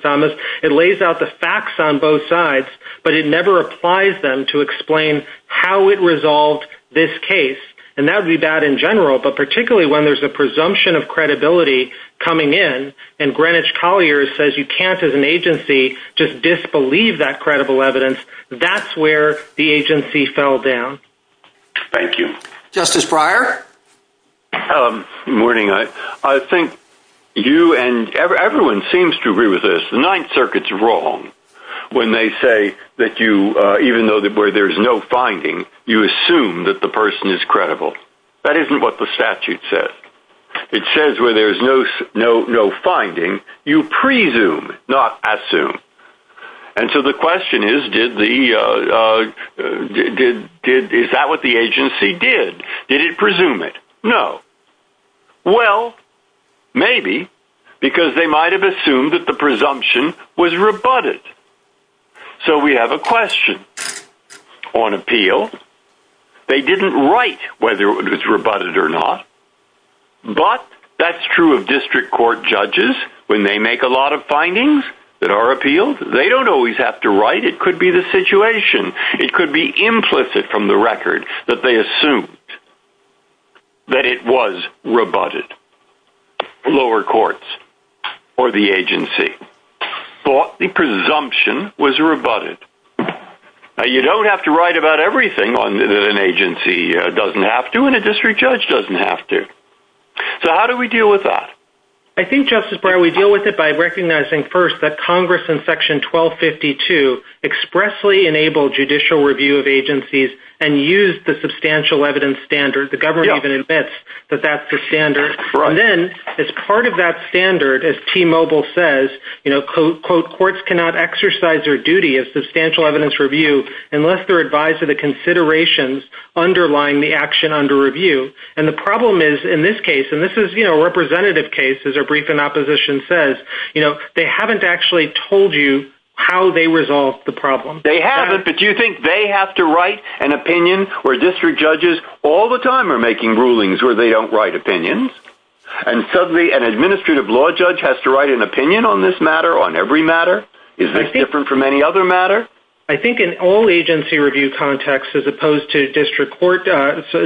Thomas. It lays out the facts on both sides, but it never applies them to explain how it resolved this case. And that would be bad in general, but particularly when there's a presumption of credibility coming in, and Greenwich Colliers says you can't as an agency just disbelieve that credible evidence, that's where the agency fell down. Thank you. Justice Breyer? Good morning. I think you and everyone seems to agree with this. The Ninth Circuit's wrong when they say that even though where there's no finding, you assume that the person is credible. That isn't what the statute says. It says where there's no finding, you presume, not assume. And so the question is, is that what the agency did? Did it presume it? No. Well, maybe, because they might have assumed that the presumption was rebutted. So we have a question on appeal. They didn't write whether it was rebutted or not, but that's true of district court judges when they make a lot of findings that are appealed. They don't always have to write. It could be the situation. It could be implicit from the record that they assumed that it was rebutted. Lower courts or the agency thought the presumption was rebutted. Now, you don't have to write about everything that an agency doesn't have to and a district judge doesn't have to. So how do we deal with that? I think, Justice Breyer, we deal with it by recognizing first that Congress in Section 1252 expressly enabled judicial review of agencies and used the substantial evidence standard. The government even admits that that's the standard. Then, as part of that standard, as T-Mobile says, courts cannot exercise their duty of substantial evidence review unless they're advised of the considerations underlying the action under review. And the problem is, in this case, and this is a representative case, as our brief in opposition says, they haven't actually told you how they resolved the problem. They haven't, but do you think they have to write an opinion where district judges all the time are making rulings where they don't write opinions? And suddenly an administrative law judge has to write an opinion on this matter, on every matter? Is this different from any other matter? I think in all agency review contexts, as opposed to district court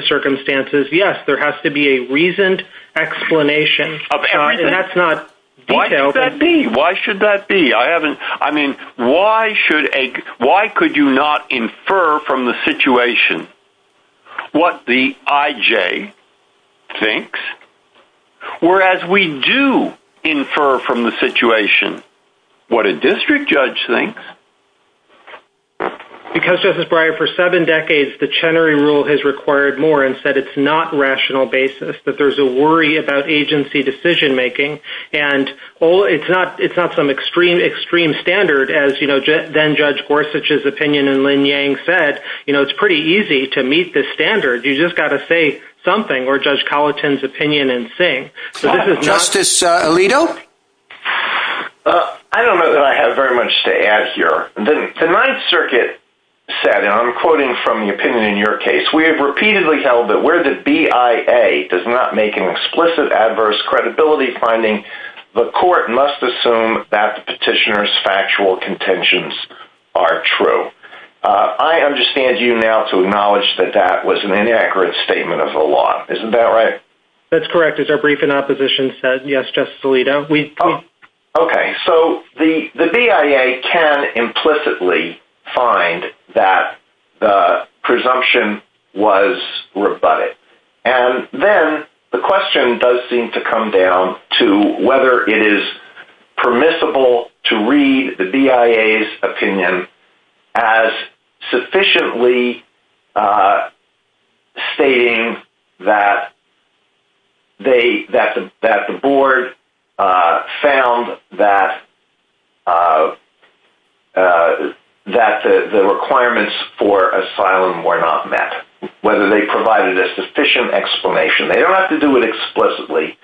circumstances, yes, there has to be a reasoned explanation. And that's not detailed. Why should that be? I mean, why could you not infer from the situation what the IJ thinks? Whereas we do infer from the situation what a district judge thinks. Because, Justice Breyer, for seven decades, the Chenery Rule has required more and said it's not rational basis, that there's a worry about agency decision-making. And it's not some extreme, extreme standard, as, you know, then-Judge Gorsuch's opinion and Lin Yang said. You know, it's pretty easy to meet this standard. You just got to say something, or Judge Colleton's opinion, and sing. Justice Alito? I don't know that I have very much to add here. The Ninth Circuit said, and I'm quoting from the opinion in your case, we have repeatedly held that where the BIA does not make an explicit adverse credibility finding, the court must assume that the petitioner's factual contentions are true. I understand you now to acknowledge that that was an inaccurate statement of the law. Isn't that right? That's correct. As our briefing opposition said, yes, Justice Alito. Okay, so the BIA can implicitly find that the presumption was rebutted. And then the question does seem to come down to whether it is permissible to read the BIA's opinion as sufficiently stating that the board found that the requirements for asylum were not met, whether they provided a sufficient explanation. They don't have to do it explicitly,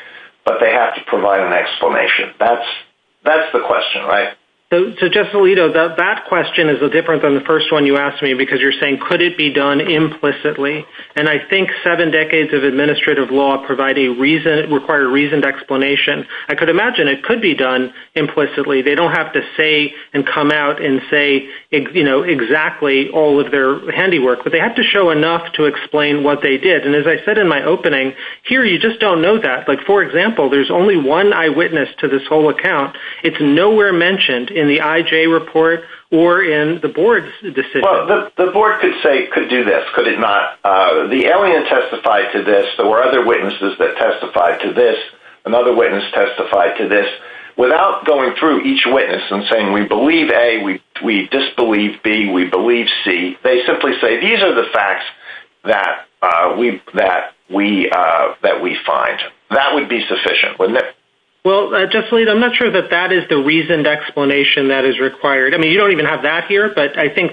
but they have to provide an explanation. That's the question, right? So, Justice Alito, that question is different than the first one you asked me, because you're saying, could it be done implicitly? And I think seven decades of administrative law require a reasoned explanation. I could imagine it could be done implicitly. They don't have to say and come out and say exactly all of their handiwork, but they have to show enough to explain what they did. And as I said in my opening, here you just don't know that. Like, for example, there's only one eyewitness to this whole account. It's nowhere mentioned in the IJ report or in the board's decision. Well, the board could do this, could it not? The alien testified to this. There were other witnesses that testified to this. Another witness testified to this. Without going through each witness and saying, we believe A, we disbelieve B, we believe C, they simply say, these are the facts that we find. That would be sufficient, wouldn't it? Well, I'm not sure that that is the reasoned explanation that is required. I mean, you don't even have that here, but I think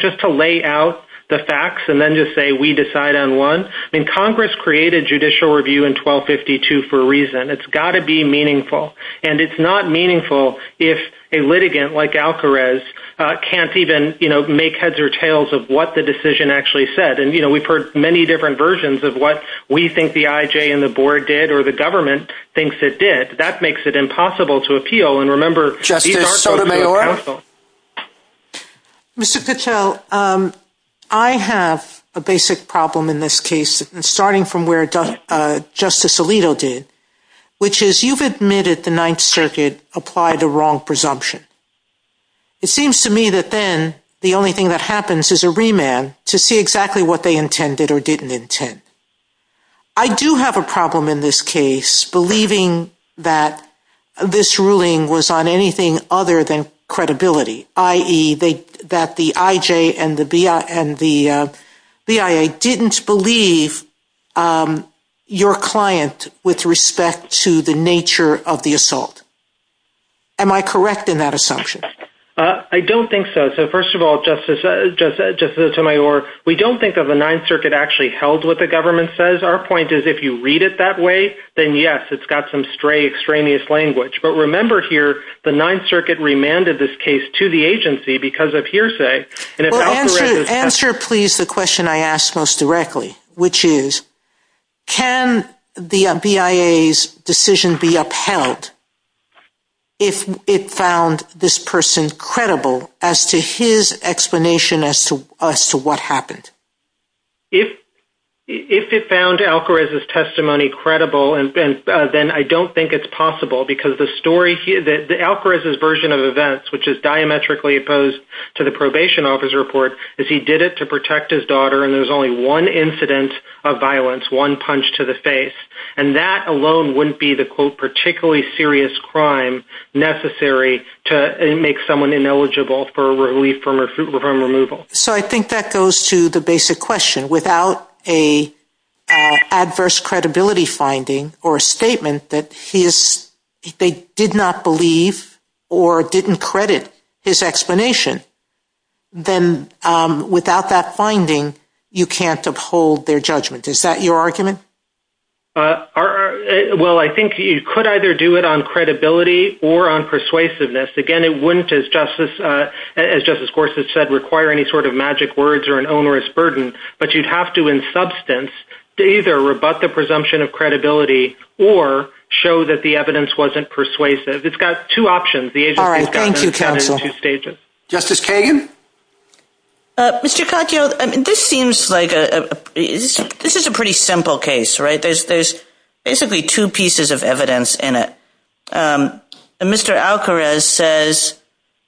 just to lay out the facts and then just say we decide on one, I mean, Congress created judicial review in 1252 for a reason. It's got to be meaningful. And it's not meaningful if a litigant like Alcarez can't even make heads or tails of what the decision actually said. And, you know, we've heard many different versions of what we think the IJ and the board did, or the government thinks it did. That makes it impossible to appeal. And remember, these are social counsel. Mr. Patel, I have a basic problem in this case, starting from where Justice Alito did, which is you've admitted the Ninth Circuit applied the wrong presumption. It seems to me that then the only thing that happens is a remand to see exactly what they intended or didn't intend. I do have a problem in this case believing that this ruling was on anything other than credibility, i.e., that the IJ and the BIA didn't believe your client with respect to the nature of the assault. Am I correct in that assumption? I don't think so. So, first of all, Justice Sotomayor, we don't think that the Ninth Circuit actually held what the government says. Our point is if you read it that way, then, yes, it's got some stray extraneous language. But remember here, the Ninth Circuit remanded this case to the agency because of hearsay. Answer, please, the question I ask most directly, which is can the BIA's decision be upheld if it found this person credible as to his explanation as to what happened? If it found Alcarez's testimony credible, then I don't think it's possible, because Alcarez's version of events, which is diametrically opposed to the probation officer report, is he did it to protect his daughter, and there's only one incident of violence, one punch to the face. And that alone wouldn't be the, quote, particularly serious crime necessary to make someone ineligible for relief from removal. So I think that goes to the basic question. Without an adverse credibility finding or a statement that they did not believe or didn't credit his explanation, then without that finding, you can't uphold their judgment. Is that your argument? Well, I think you could either do it on credibility or on persuasiveness. Again, it wouldn't, as Justice Gorsuch said, require any sort of magic words or an onerous burden, but you'd have to in substance to either rebut the presumption of credibility or show that the evidence wasn't persuasive. It's got two options. All right, thank you, counsel. Justice Kagan? Mr. Katyal, this is a pretty simple case, right? There's basically two pieces of evidence in it. Mr. Alcarez says,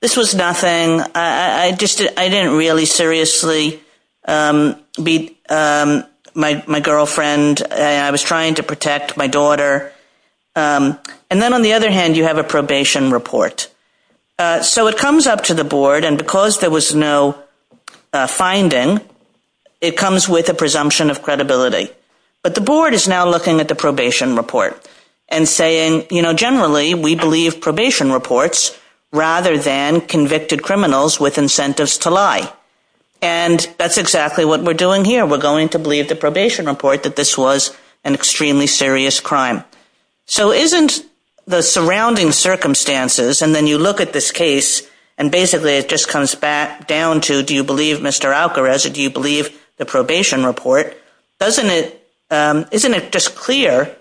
this was nothing. I didn't really seriously beat my girlfriend. I was trying to protect my daughter. And then on the other hand, you have a probation report. So it comes up to the board, and because there was no finding, it comes with a presumption of credibility. But the board is now looking at the probation report and saying, generally, we believe probation reports rather than convicted criminals with incentives to lie. And that's exactly what we're doing here. We're going to believe the probation report that this was an extremely serious crime. So isn't the surrounding circumstances, and then you look at this case, and basically it just comes back down to, do you believe Mr. Alcarez or do you believe the probation report? Isn't it just clear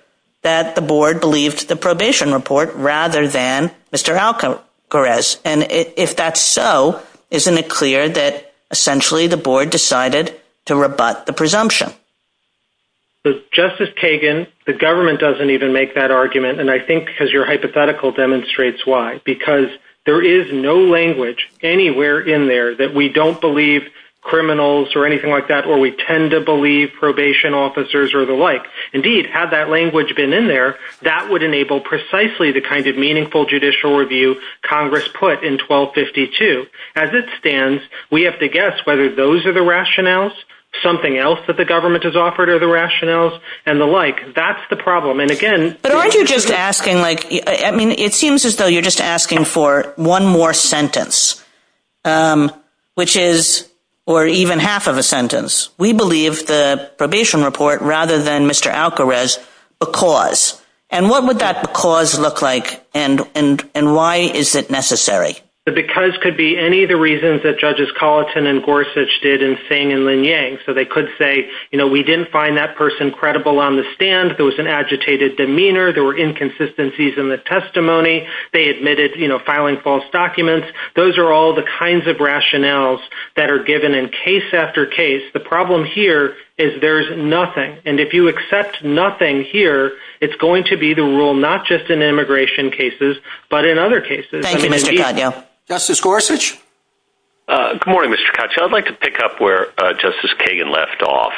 that the board believed the probation report rather than Mr. Alcarez? And if that's so, isn't it clear that essentially the board decided to rebut the presumption? Justice Kagan, the government doesn't even make that argument, and I think because your hypothetical demonstrates why. Because there is no language anywhere in there that we don't believe criminals or anything like that, or we tend to believe probation officers or the like. Indeed, had that language been in there, that would enable precisely the kind of meaningful judicial review Congress put in 1252. As it stands, we have to guess whether those are the rationales, something else that the government has offered are the rationales, and the like. That's the problem. But aren't you just asking, like, I mean, it seems as though you're just asking for one more sentence, which is, or even half of a sentence. We believe the probation report rather than Mr. Alcarez because. And what would that because look like, and why is it necessary? The because could be any of the reasons that Judges Colleton and Gorsuch did in Singh and Lin Yang. So they could say, you know, we didn't find that person credible on the stand. There was an agitated demeanor. There were inconsistencies in the testimony. They admitted filing false documents. Those are all the kinds of rationales that are given in case after case. The problem here is there's nothing. And if you accept nothing here, it's going to be the rule, not just in immigration cases, but in other cases. Justice Gorsuch. Good morning, Mr. Couch. I'd like to pick up where Justice Kagan left off.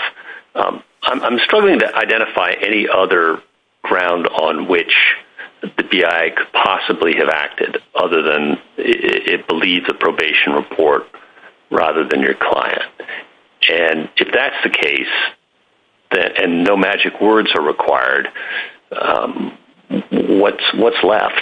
I'm struggling to identify any other ground on which the D.I. could possibly have acted other than it believes a probation report rather than your client. And if that's the case and no magic words are required, what's what's left?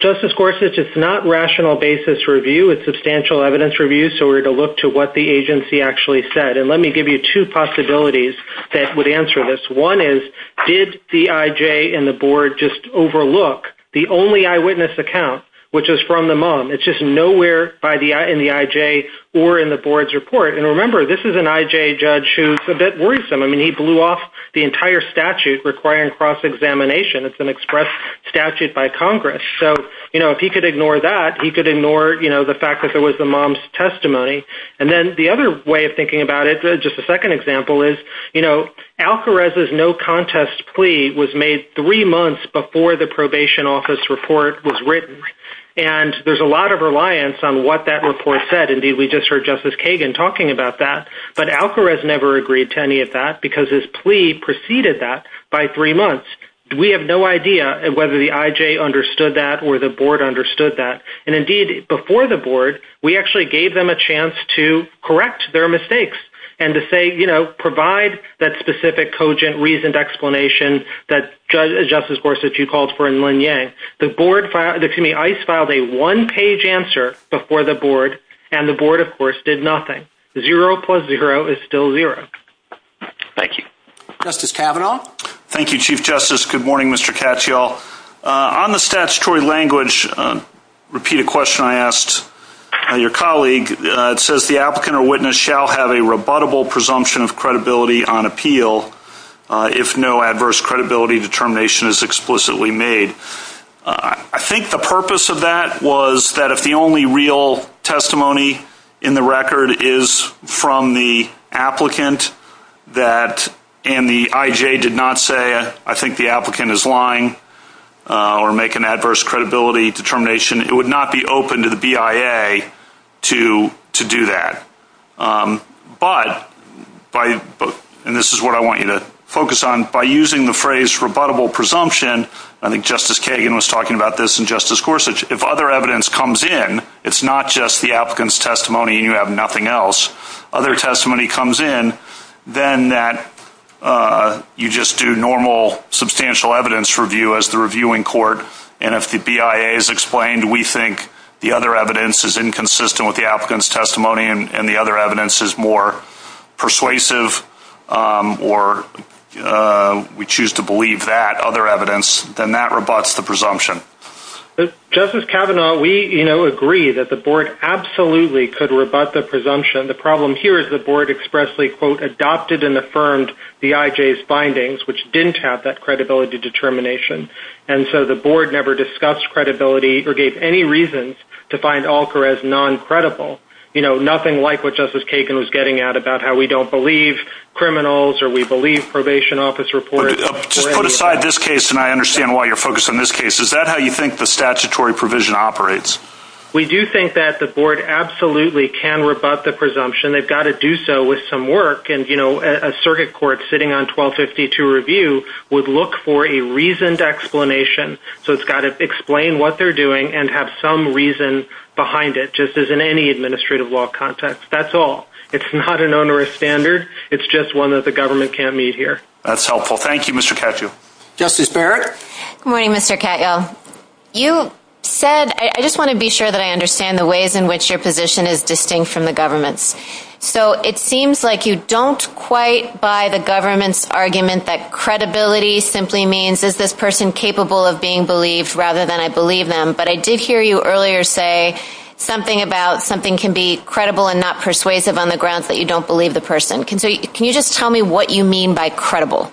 Justice Gorsuch, it's not rational basis review. It's substantial evidence review. So we're going to look to what the agency actually said. And let me give you two possibilities that would answer this. One is, did the I.J. and the board just overlook the only eyewitness account, which is from the mom? It's just nowhere in the I.J. or in the board's report. And remember, this is an I.J. judge who's a bit worrisome. I mean, he blew off the entire statute requiring cross-examination. It's an express statute by Congress. So, you know, if he could ignore that, he could ignore, you know, the fact that there was the mom's testimony. And then the other way of thinking about it, just a second example, is, you know, Alcarez's no contest plea was made three months before the probation office report was written. And there's a lot of reliance on what that report said. Indeed, we just heard Justice Kagan talking about that. But Alcarez never agreed to any of that because his plea preceded that by three months. We have no idea whether the I.J. understood that or the board understood that. And, indeed, before the board, we actually gave them a chance to correct their mistakes and to say, you know, provide that specific cogent reasoned explanation that Justice Worsitz, you called for in Lin Yang. The board, the committee, ICE filed a one-page answer before the board. And the board, of course, did nothing. Zero plus zero is still zero. Thank you. Justice Kavanaugh? Thank you, Chief Justice. Good morning, Mr. Katyal. On the statutory language, repeat a question I asked your colleague. It says the applicant or witness shall have a rebuttable presumption of credibility on appeal if no adverse credibility determination is explicitly made. I think the purpose of that was that if the only real testimony in the record is from the applicant and the I.J. did not say, I think the applicant is lying or make an adverse credibility determination, it would not be open to the BIA to do that. But, and this is what I want you to focus on, by using the phrase rebuttable presumption, I think Justice Kagan was talking about this and Justice Gorsuch, if other evidence comes in, it's not just the applicant's testimony and you have nothing else. Other testimony comes in, then you just do normal substantial evidence review as the reviewing court, and if the BIA has explained we think the other evidence is inconsistent with the applicant's testimony and the other evidence is more persuasive or we choose to believe that other evidence, then that rebuts the presumption. Justice Kavanaugh, we agree that the board absolutely could rebut the presumption. The problem here is the board expressly, quote, adopted and affirmed the I.J.'s findings, which didn't have that credibility determination. And so the board never discussed credibility or gave any reason to find Allker as non-credible. You know, nothing like what Justice Kagan was getting at about how we don't believe criminals or we believe probation office reports. Just put aside this case, and I understand why you're focused on this case. Is that how you think the statutory provision operates? We do think that the board absolutely can rebut the presumption. They've got to do so with some work, and, you know, a circuit court sitting on 1252 review would look for a reasoned explanation. So it's got to explain what they're doing and have some reason behind it, just as in any administrative law context. That's all. It's not an onerous standard. It's just one that the government can't meet here. That's helpful. Thank you, Mr. Katyal. Justice Barrett? Good morning, Mr. Katyal. You said, I just want to be sure that I understand the ways in which your position is distinct from the government's. So it seems like you don't quite buy the government's argument that credibility simply means is this person capable of being believed rather than I believe them. But I did hear you earlier say something about something can be credible and not persuasive on the grounds that you don't believe the person. Can you just tell me what you mean by credible?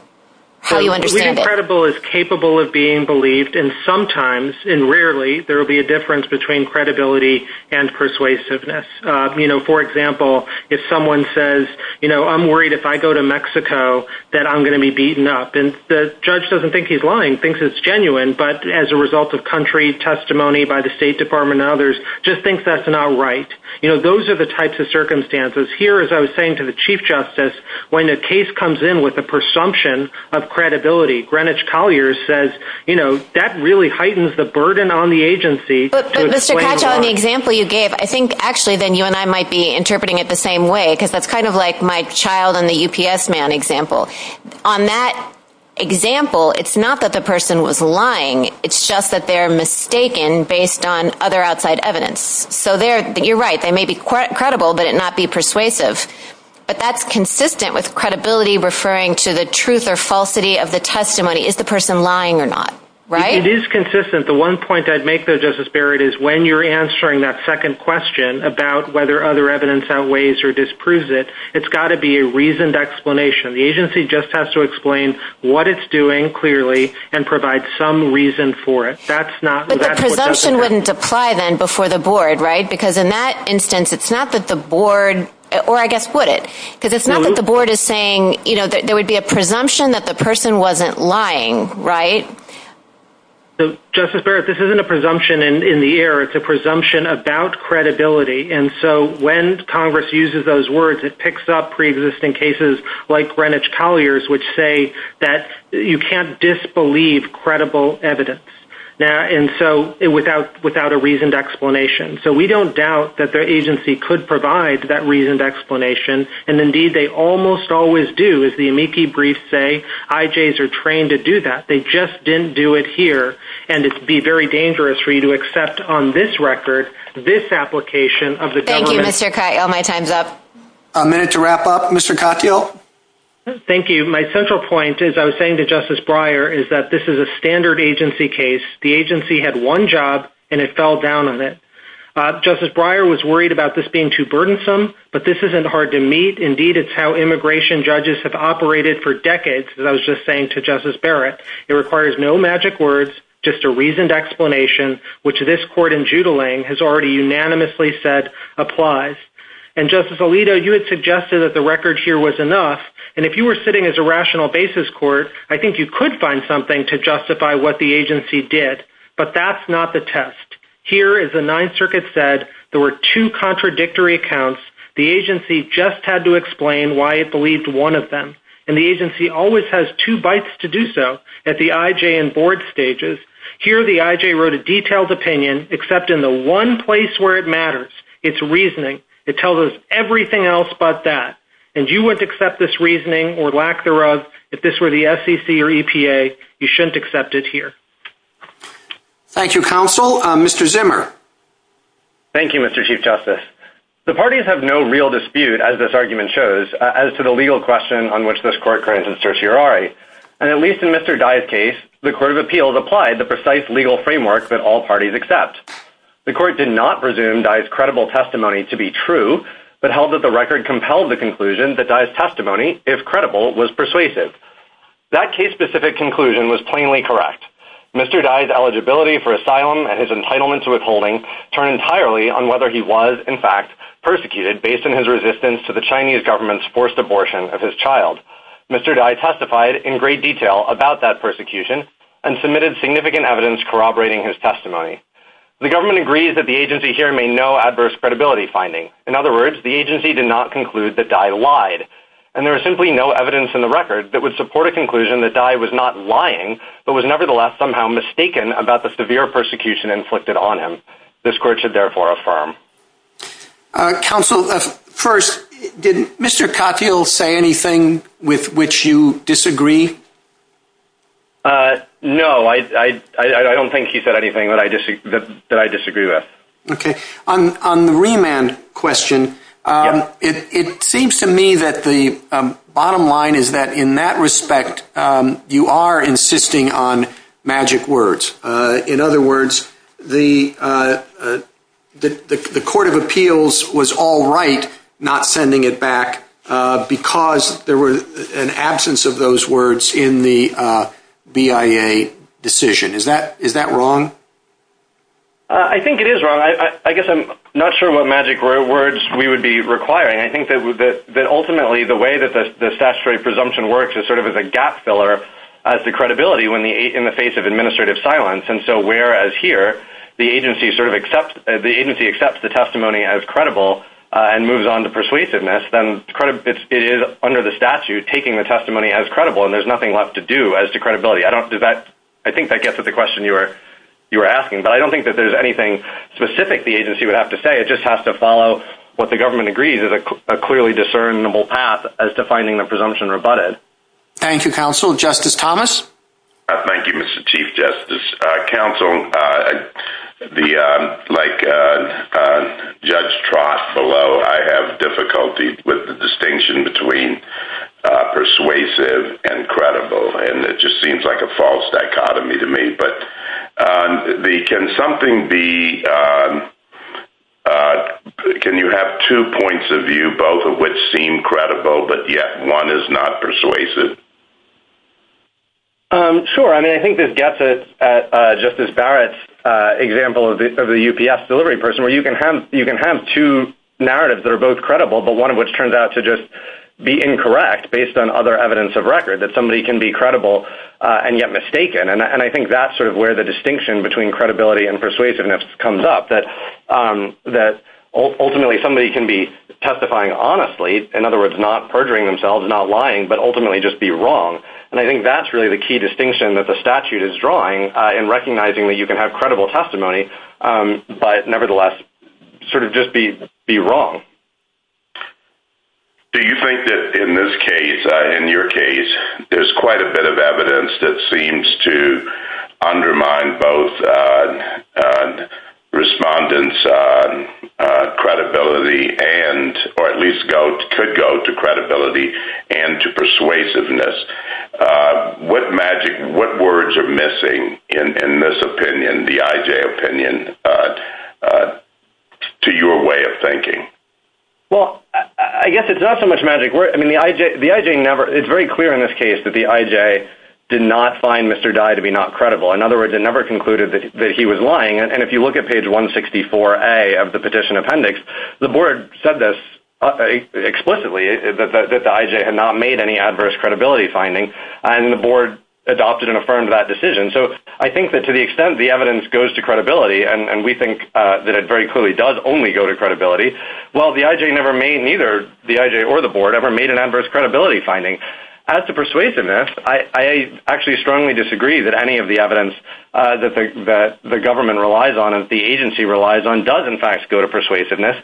How do you understand it? Credible is capable of being believed, and sometimes, and rarely, there will be a difference between credibility and persuasiveness. You know, for example, if someone says, you know, I'm worried if I go to Mexico that I'm going to be beaten up, and the judge doesn't think he's lying, thinks it's genuine, but as a result of country testimony by the State Department and others, just thinks that's not right. You know, those are the types of circumstances. Here, as I was saying to the Chief Justice, when a case comes in with a presumption of credibility, Greenwich Colliers says, you know, that really heightens the burden on the agency to explain why. But, Mr. Katyal, in the example you gave, I think actually then you and I might be interpreting it the same way because that's kind of like my child and the UPS man example. On that example, it's not that the person was lying. It's just that they're mistaken based on other outside evidence. So you're right. They may be credible, but not be persuasive. But that's consistent with credibility referring to the truth or falsity of the testimony, is the person lying or not, right? It is consistent. The one point I'd make there, Justice Barrett, is when you're answering that second question about whether other evidence outweighs or disproves it, it's got to be a reasoned explanation. The agency just has to explain what it's doing clearly and provide some reason for it. But the presumption wouldn't apply then before the board, right? Because in that instance, it's not that the board, or I guess would it? Because it's not that the board is saying, you know, that there would be a presumption that the person wasn't lying, right? Justice Barrett, this isn't a presumption in the air. It's a presumption about credibility. And so when Congress uses those words, it picks up preexisting cases like Greenwich Colliers, which say that you can't disbelieve credible evidence without a reasoned explanation. So we don't doubt that the agency could provide that reasoned explanation. And, indeed, they almost always do, as the MEP briefs say. IJs are trained to do that. They just didn't do it here. And it would be very dangerous for you to accept on this record this application of the government. Thank you, Mr. Katyal. My time's up. A minute to wrap up. Mr. Katyal? Thank you. My central point, as I was saying to Justice Breyer, is that this is a standard agency case. The agency had one job, and it fell down on it. Justice Breyer was worried about this being too burdensome, but this isn't hard to meet. Indeed, it's how immigration judges have operated for decades, as I was just saying to Justice Barrett. It requires no magic words, just a reasoned explanation, which this court in Jutland has already unanimously said applies. And, Justice Alito, you had suggested that the record here was enough. And if you were sitting as a rational basis court, I think you could find something to justify what the agency did. But that's not the test. Here, as the Ninth Circuit said, there were two contradictory accounts. The agency just had to explain why it believed one of them. And the agency always has two bites to do so at the IJ and board stages. Here, the IJ wrote a detailed opinion, except in the one place where it matters. It's reasoning. It tells us everything else but that. And you wouldn't accept this reasoning, or lack thereof, if this were the SEC or EPA. You shouldn't accept it here. Thank you, Counsel. Mr. Zimmer? Thank you, Mr. Chief Justice. The parties have no real dispute, as this argument shows, as to the legal question on which this court granted certiorari. And at least in Mr. Dye's case, the Court of Appeals applied the precise legal framework that all parties accept. The court did not presume Dye's credible testimony to be true, but held that the record compelled the conclusion that Dye's testimony, if credible, was persuasive. That case-specific conclusion was plainly correct. Mr. Dye's eligibility for asylum and his entitlement to withholding turn entirely on whether he was, in fact, persecuted based on his resistance to the Chinese government's forced abortion of his child. Mr. Dye testified in great detail about that persecution and submitted significant evidence corroborating his testimony. The government agrees that the agency here made no adverse credibility finding. In other words, the agency did not conclude that Dye lied. And there is simply no evidence in the record that would support a conclusion that Dye was not lying, but was nevertheless somehow mistaken about the severe persecution inflicted on him. This court should therefore affirm. Counsel, first, did Mr. Katyal say anything with which you disagree? No, I don't think he said anything that I disagree with. Okay. On the remand question, it seems to me that the bottom line is that in that respect, you are insisting on magic words. In other words, the court of appeals was all right not sending it back because there was an absence of those words in the BIA decision. Is that wrong? I think it is wrong. I guess I'm not sure what magic words we would be requiring. I think that ultimately the way that the statutory presumption works is sort of as a gap filler as to credibility in the face of administrative silence. And so whereas here, the agency accepts the testimony as credible and moves on to persuasiveness, then it is under the statute taking the testimony as credible, and there's nothing left to do as to credibility. I think that gets at the question you were asking, but I don't think that there's anything specific the agency would have to say. It just has to follow what the government agrees is a clearly discernible path as to finding the presumption rebutted. Thank you, counsel. Justice Thomas? Thank you, Mr. Chief Justice. Counsel, like Judge Trost below, I have difficulty with the distinction between persuasive and credible, and it just seems like a false dichotomy to me. But can you have two points of view, both of which seem credible, but yet one is not persuasive? Sure. I mean, I think this gets at Justice Barrett's example of the UPS delivery person, where you can have two narratives that are both credible but one of which turns out to just be incorrect based on other evidence of record, that somebody can be credible and yet mistaken. And I think that's sort of where the distinction between credibility and persuasiveness comes up, that ultimately somebody can be testifying honestly, in other words, not perjuring themselves, not lying, but ultimately just be wrong. And I think that's really the key distinction that the statute is drawing in recognizing that you can have credible testimony but nevertheless sort of just be wrong. Do you think that in this case, in your case, there's quite a bit of evidence that seems to undermine both respondents' credibility, or at least could go to credibility and to persuasiveness? What words are missing in this opinion, the IJ opinion, to your way of thinking? Well, I guess it's not so much magic. I mean, it's very clear in this case that the IJ did not find Mr. Dye to be not credible. In other words, it never concluded that he was lying. And if you look at page 164A of the petition appendix, the board said this explicitly, that the IJ had not made any adverse credibility finding, and the board adopted and affirmed that decision. So I think that to the extent the evidence goes to credibility, and we think that it very clearly does only go to credibility, well, the IJ never made, neither the IJ or the board, ever made an adverse credibility finding. As to persuasiveness, I actually strongly disagree that any of the evidence that the government relies on, that the agency relies on, does in fact go to persuasiveness.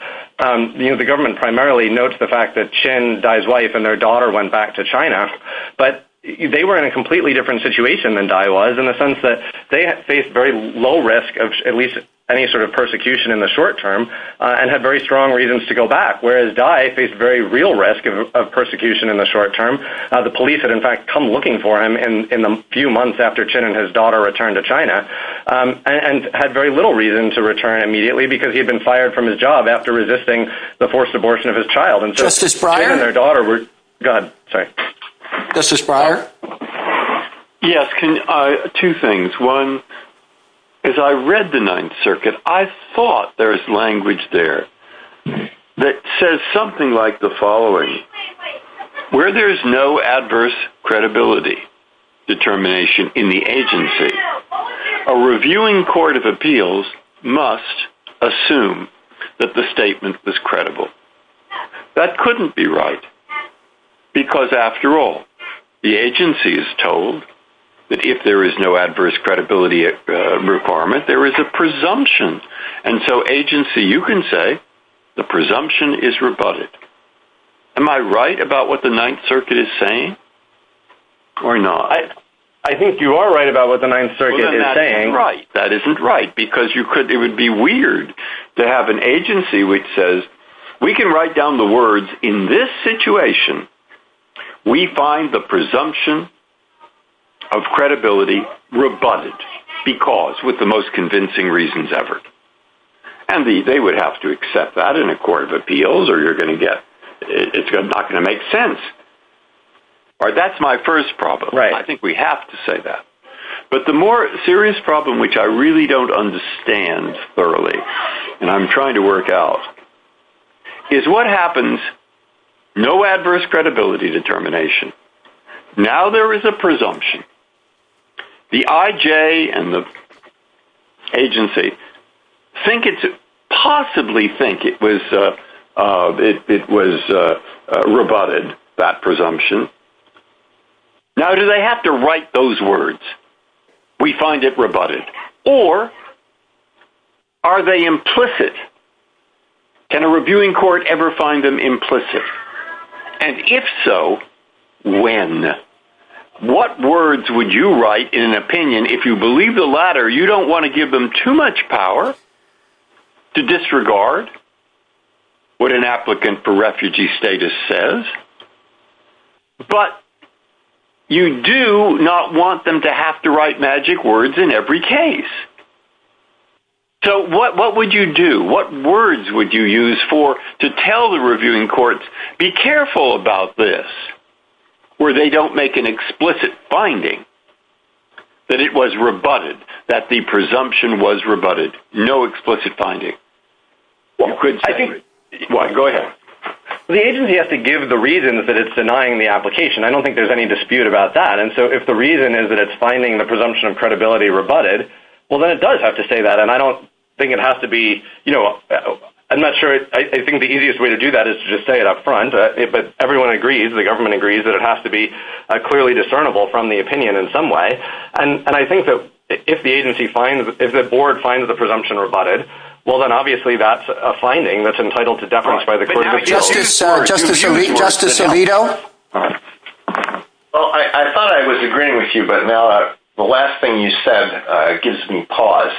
You know, the government primarily notes the fact that Chin, Dye's wife, and their daughter went back to China. But they were in a completely different situation than Dye was, in the sense that they faced very low risk of at least any sort of persecution in the short term, and had very strong reasons to go back, whereas Dye faced very real risk of persecution in the short term. The police had in fact come looking for him in the few months after Chin and his daughter returned to China, and had very little reason to return immediately, because he had been fired from his job after resisting the forced abortion of his child. And so Chin and their daughter were, God, sorry. Justice Breyer? Yes, two things. One, as I read the Ninth Circuit, I thought there was language there that says something like the following. Where there is no adverse credibility determination in the agency, a reviewing court of appeals must assume that the statement is credible. That couldn't be right, because after all, the agency is told that if there is no adverse credibility requirement, there is a presumption. And so agency, you can say, the presumption is rebutted. Am I right about what the Ninth Circuit is saying, or not? I think you are right about what the Ninth Circuit is saying. Well, then that isn't right, because it would be weird to have an agency which says, We can write down the words, in this situation, we find the presumption of credibility rebutted, because, with the most convincing reasons ever. And they would have to accept that in a court of appeals, or you're going to get, it's not going to make sense. That's my first problem. I think we have to say that. But the more serious problem, which I really don't understand thoroughly, and I'm trying to work out, is what happens, no adverse credibility determination. Now there is a presumption. The IJ and the agency think it's, possibly think it was rebutted, that presumption. Now do they have to write those words? We find it rebutted. Or, are they implicit? Can a reviewing court ever find them implicit? And if so, when? What words would you write in an opinion, if you believe the latter, you don't want to give them too much power, to disregard what an applicant for refugee status says? But, you do not want them to have to write magic words in every case. So what would you do? What words would you use for, to tell the reviewing courts, be careful about this. Where they don't make an explicit finding, that it was rebutted. That the presumption was rebutted. No explicit finding. Go ahead. The agency has to give the reasons that it's denying the application. I don't think there's any dispute about that. And so if the reason is that it's finding the presumption of credibility rebutted, well then it does have to say that. And I don't think it has to be, you know, I'm not sure, I think the easiest way to do that is to just say it up front. But everyone agrees, the government agrees, that it has to be clearly discernible from the opinion in some way. And I think that if the agency finds, if the board finds the presumption rebutted, well then obviously that's a finding that's entitled to defense by the court. Justice Alito? Well, I thought I was agreeing with you, but now the last thing you said gives me pause.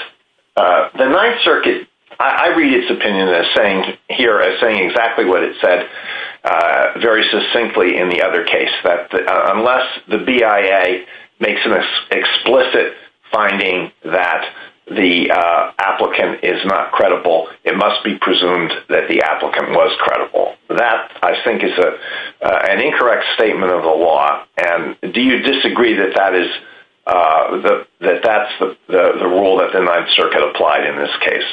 The Ninth Circuit, I read its opinion as saying here, as saying exactly what it said, very succinctly in the other case. That unless the BIA makes an explicit finding that the applicant is not credible, it must be presumed that the applicant was credible. That, I think, is an incorrect statement of the law. And do you disagree that that is, that that's the rule that the Ninth Circuit applied in this case?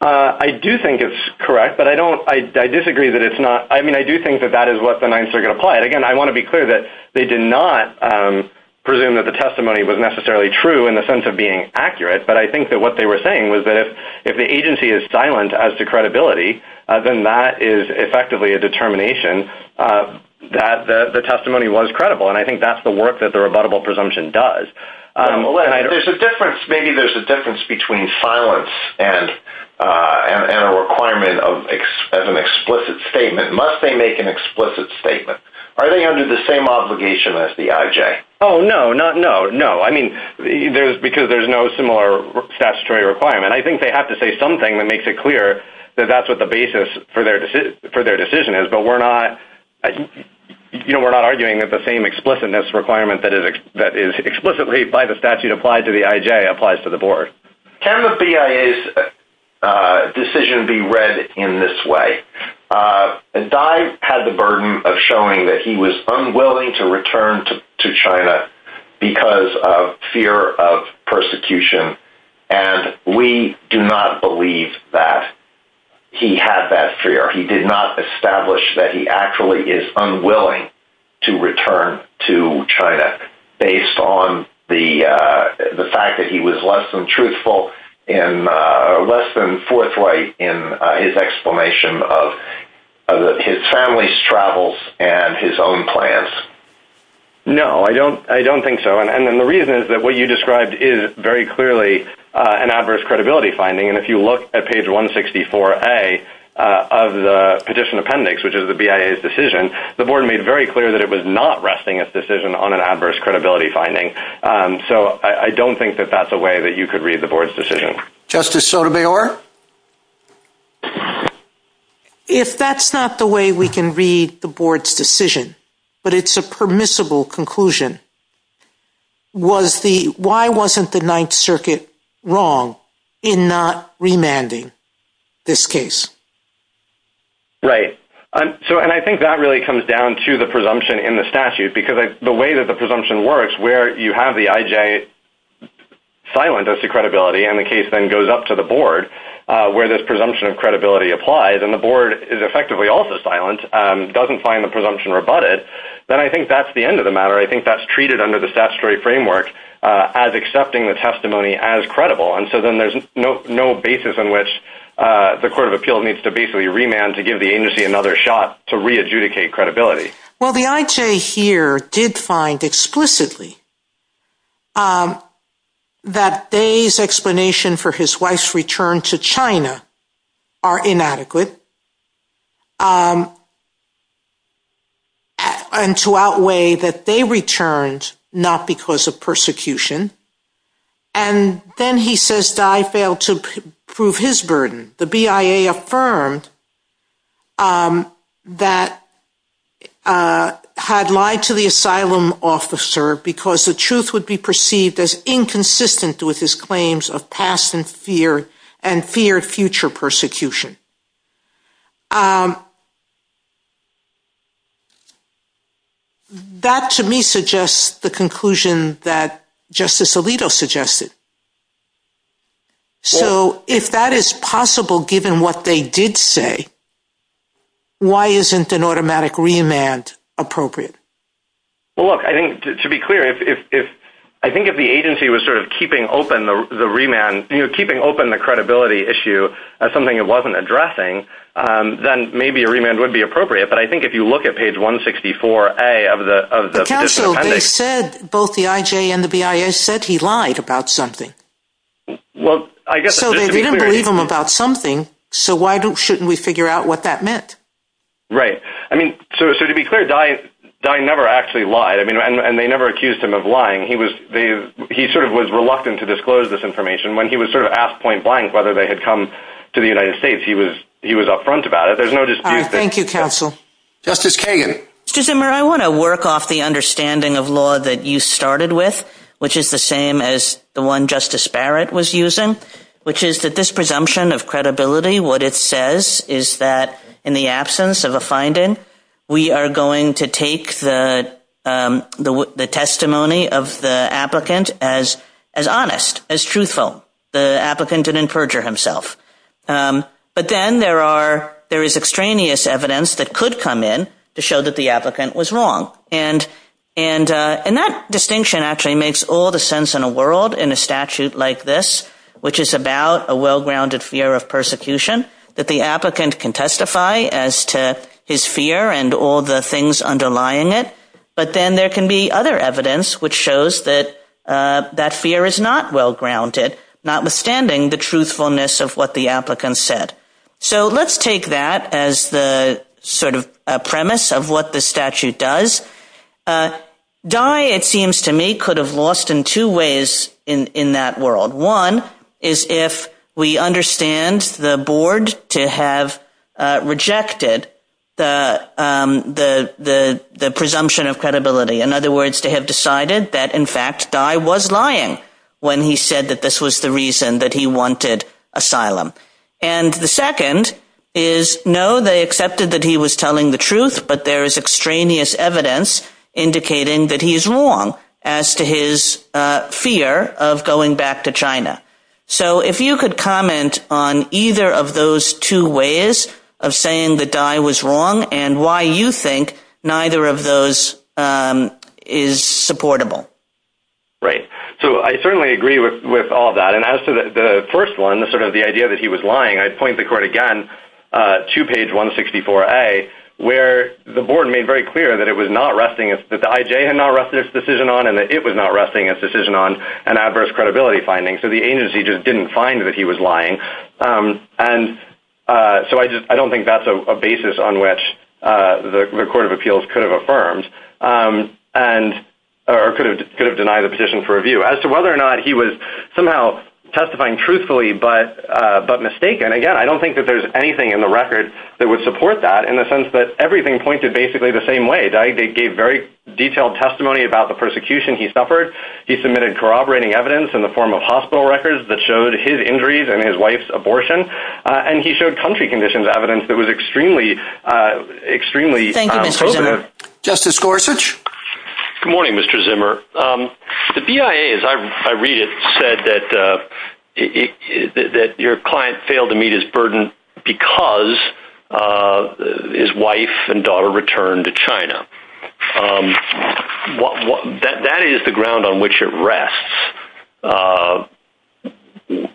I do think it's correct, but I don't, I disagree that it's not, I mean I do think that that is what the Ninth Circuit applied. Again, I want to be clear that they did not presume that the testimony was necessarily true in the sense of being accurate. But I think that what they were saying was that if the agency is silent as to credibility, then that is effectively a determination that the testimony was credible. And I think that's the work that the rebuttable presumption does. There's a difference, maybe there's a difference between silence and a requirement of an explicit statement. Must they make an explicit statement? Are they under the same obligation as the IJ? Oh, no, not, no, no. I mean, there's, because there's no similar statutory requirement. I think they have to say something that makes it clear that that's what the basis for their decision is. But we're not, you know, we're not arguing that the same explicitness requirement that is explicitly by the statute applied to the IJ applies to the board. Can the BIA's decision be read in this way? Dai had the burden of showing that he was unwilling to return to China because of fear of persecution. And we do not believe that he had that fear. He did not establish that he actually is unwilling to return to China based on the fact that he was less than truthful in less than forthright in his explanation of his family's travels and his own plans. No, I don't. I don't think so. And the reason is that what you described is very clearly an adverse credibility finding. And if you look at page 164A of the petition appendix, which is the BIA's decision, the board made very clear that it was not resting its decision on an adverse credibility finding. So I don't think that that's a way that you could read the board's decision. Justice Sotomayor? If that's not the way we can read the board's decision, but it's a permissible conclusion, why wasn't the Ninth Circuit wrong in not remanding this case? Right. And I think that really comes down to the presumption in the statute. Because the way that the presumption works, where you have the IJ silent as to credibility, and the case then goes up to the board where this presumption of credibility applied, and the board is effectively also silent, doesn't find the presumption rebutted, then I think that's the end of the matter. I think that's treated under the statutory framework as accepting the testimony as credible. And so then there's no basis in which the Court of Appeal needs to basically remand to give the agency another shot to re-adjudicate credibility. Well, the IJ here did find explicitly that Dai's explanation for his wife's return to China are inadequate, and to outweigh that they returned not because of persecution. And then he says Dai failed to prove his burden. The BIA affirmed that he had lied to the asylum officer because the truth would be perceived as inconsistent with his claims of past and feared future persecution. That, to me, suggests the conclusion that Justice Alito suggested. So if that is possible, given what they did say, why isn't an automatic remand appropriate? Well, look, to be clear, I think if the agency was sort of keeping open the remand, you know, keeping open the credibility issue as something it wasn't addressing, then maybe a remand would be appropriate. But I think if you look at page 164A of the petition appendix— But also, they said, both the IJ and the BIA said he lied about something. Well, I guess— So they didn't believe him about something, so why shouldn't we figure out what that meant? Right. I mean, so to be clear, Dai never actually lied, and they never accused him of lying. He sort of was reluctant to disclose this information. When he was sort of asked point blank whether they had come to the United States, he was up front about it. There's no dispute there. Thank you, counsel. Justice Kagan. Mr. Zimmer, I want to work off the understanding of law that you started with, which is the same as the one Justice Barrett was using, which is that this presumption of credibility, what it says is that in the absence of a finding, we are going to take the testimony of the applicant as honest, as truthful. The applicant didn't perjure himself. But then there is extraneous evidence that could come in to show that the applicant was wrong. And that distinction actually makes all the sense in a world in a statute like this, which is about a well-grounded fear of persecution, that the applicant can testify as to his fear and all the things underlying it. But then there can be other evidence which shows that that fear is not well-grounded, notwithstanding the truthfulness of what the applicant said. So let's take that as the sort of premise of what the statute does. Guy, it seems to me, could have lost in two ways in that world. One is if we understand the board to have rejected the presumption of credibility. In other words, to have decided that, in fact, Guy was lying when he said that this was the reason that he wanted asylum. And the second is, no, they accepted that he was telling the truth, but there is extraneous evidence indicating that he is wrong as to his fear of going back to China. So if you could comment on either of those two ways of saying that Guy was wrong and why you think neither of those is supportable. Right. So I certainly agree with all that. And as to the first one, sort of the idea that he was lying, I'd point the court again to page 164A, where the board made very clear that the IJ had not rested its decision on and that it was not resting its decision on an adverse credibility finding. So the agency just didn't find that he was lying. And so I don't think that's a basis on which the Court of Appeals could have affirmed or could have denied the petition for review. As to whether or not he was somehow testifying truthfully but mistaken, again, I don't think that there's anything in the record that would support that in the sense that everything pointed basically the same way. Guy gave very detailed testimony about the persecution he suffered. He submitted corroborating evidence in the form of hospital records that showed his injuries and his wife's abortion. And he showed country conditions evidence that was extremely, extremely positive. Thank you, Mr. Zimmer. Justice Gorsuch? Good morning, Mr. Zimmer. The BIA, as I read it, said that your client failed to meet his burden because his wife and daughter returned to China. That is the ground on which it rests.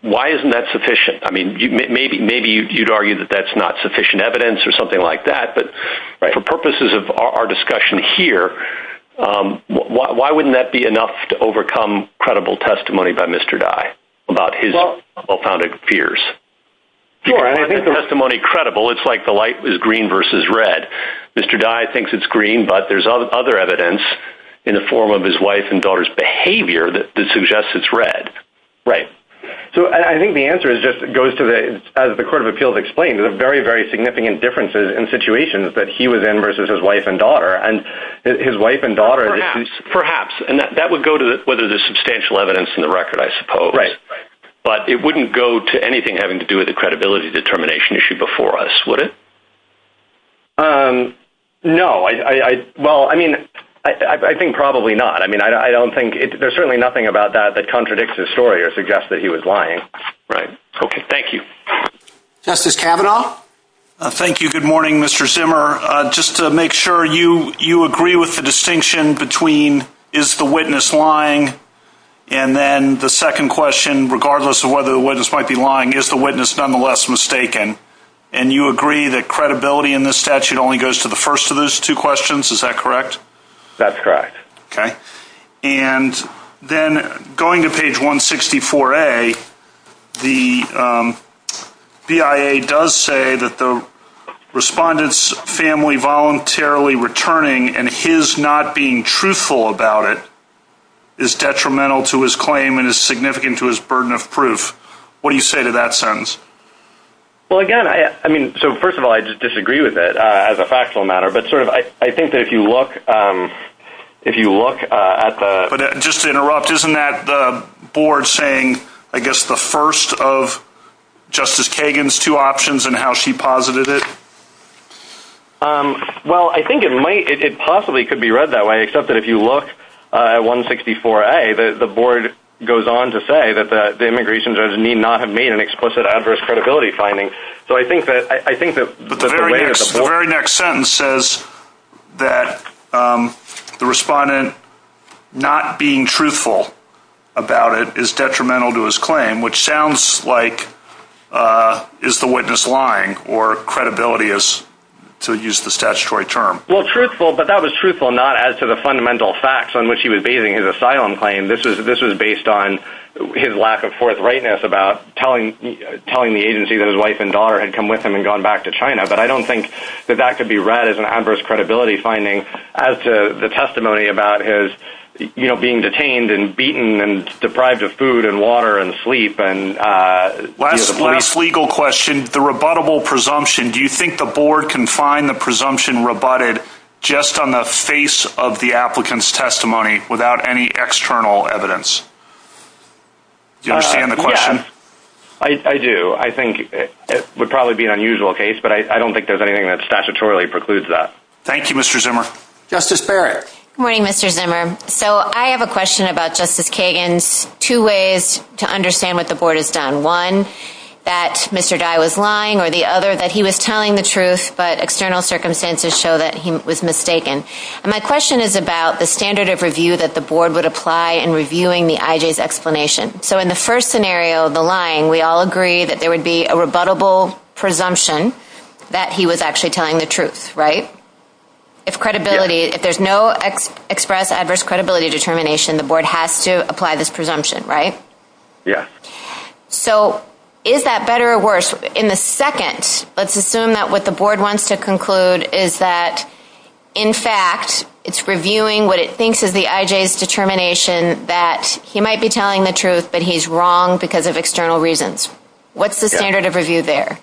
Why isn't that sufficient? I mean, maybe you'd argue that that's not sufficient evidence or something like that. But for purposes of our discussion here, why wouldn't that be enough to overcome credible testimony by Mr. Dye about his well-founded fears? If you don't have the testimony credible, it's like the light is green versus red. Mr. Dye thinks it's green, but there's other evidence in the form of his wife and daughter's behavior that suggests it's red. Right. So I think the answer just goes to, as the Court of Appeals explained, there's very, very significant differences in situations that he was in versus his wife and daughter, and his wife and daughter. Perhaps, and that would go to whether there's substantial evidence in the record, I suppose. Right. But it wouldn't go to anything having to do with the credibility determination issue before us, would it? No. Well, I mean, I think probably not. I mean, I don't think there's certainly nothing about that that contradicts his story or suggests that he was lying. Right. Okay, thank you. Justice Kavanaugh? Thank you. Good morning, Mr. Zimmer. Just to make sure you agree with the distinction between is the witness lying, and then the second question, regardless of whether the witness might be lying, is the witness nonetheless mistaken? And you agree that credibility in this statute only goes to the first of those two questions, is that correct? That's correct. Okay. And then going to page 164A, the BIA does say that the respondent's family voluntarily returning and his not being truthful about it is detrimental to his claim and is significant to his burden of proof. What do you say to that sentence? Well, again, I mean, so first of all, I just disagree with it as a factual matter. But I think that if you look at the – But just to interrupt, isn't that the board saying, I guess, the first of Justice Kagan's two options and how she posited it? Well, I think it possibly could be read that way, except that if you look at 164A, the board goes on to say that the immigration judge need not have made an explicit adverse credibility finding. So I think that – The very next sentence says that the respondent not being truthful about it is detrimental to his claim, which sounds like is the witness lying or credibility is, to use the statutory term. Well, truthful, but that was truthful not as to the fundamental facts on which he was basing his asylum claim. This was based on his lack of forthrightness about telling the agency that his wife and daughter had come with him and gone back to China. But I don't think that that could be read as an adverse credibility finding as to the testimony about his being detained and beaten and deprived of food and water and sleep. Last legal question, the rebuttable presumption. Do you think the board can find the presumption rebutted just on the face of the applicant's testimony without any external evidence? Do you understand the question? I do. I think it would probably be an unusual case, but I don't think there's anything that statutorily precludes that. Thank you, Mr. Zimmer. Justice Barrett. Good morning, Mr. Zimmer. So I have a question about Justice Kagan. Two ways to understand what the board has done. One, that Mr. Dye was lying, or the other, that he was telling the truth, but external circumstances show that he was mistaken. My question is about the standard of review that the board would apply in reviewing the IJ's explanation. So in the first scenario, the lying, we all agree that there would be a rebuttable presumption that he was actually telling the truth, right? If credibility, if there's no express adverse credibility determination, the board has to apply this presumption, right? Yeah. So is that better or worse? In the second, let's assume that what the board wants to conclude is that, in fact, it's reviewing what it thinks is the IJ's determination that he might be telling the truth, but he's wrong because of external reasons. What's the standard of review there?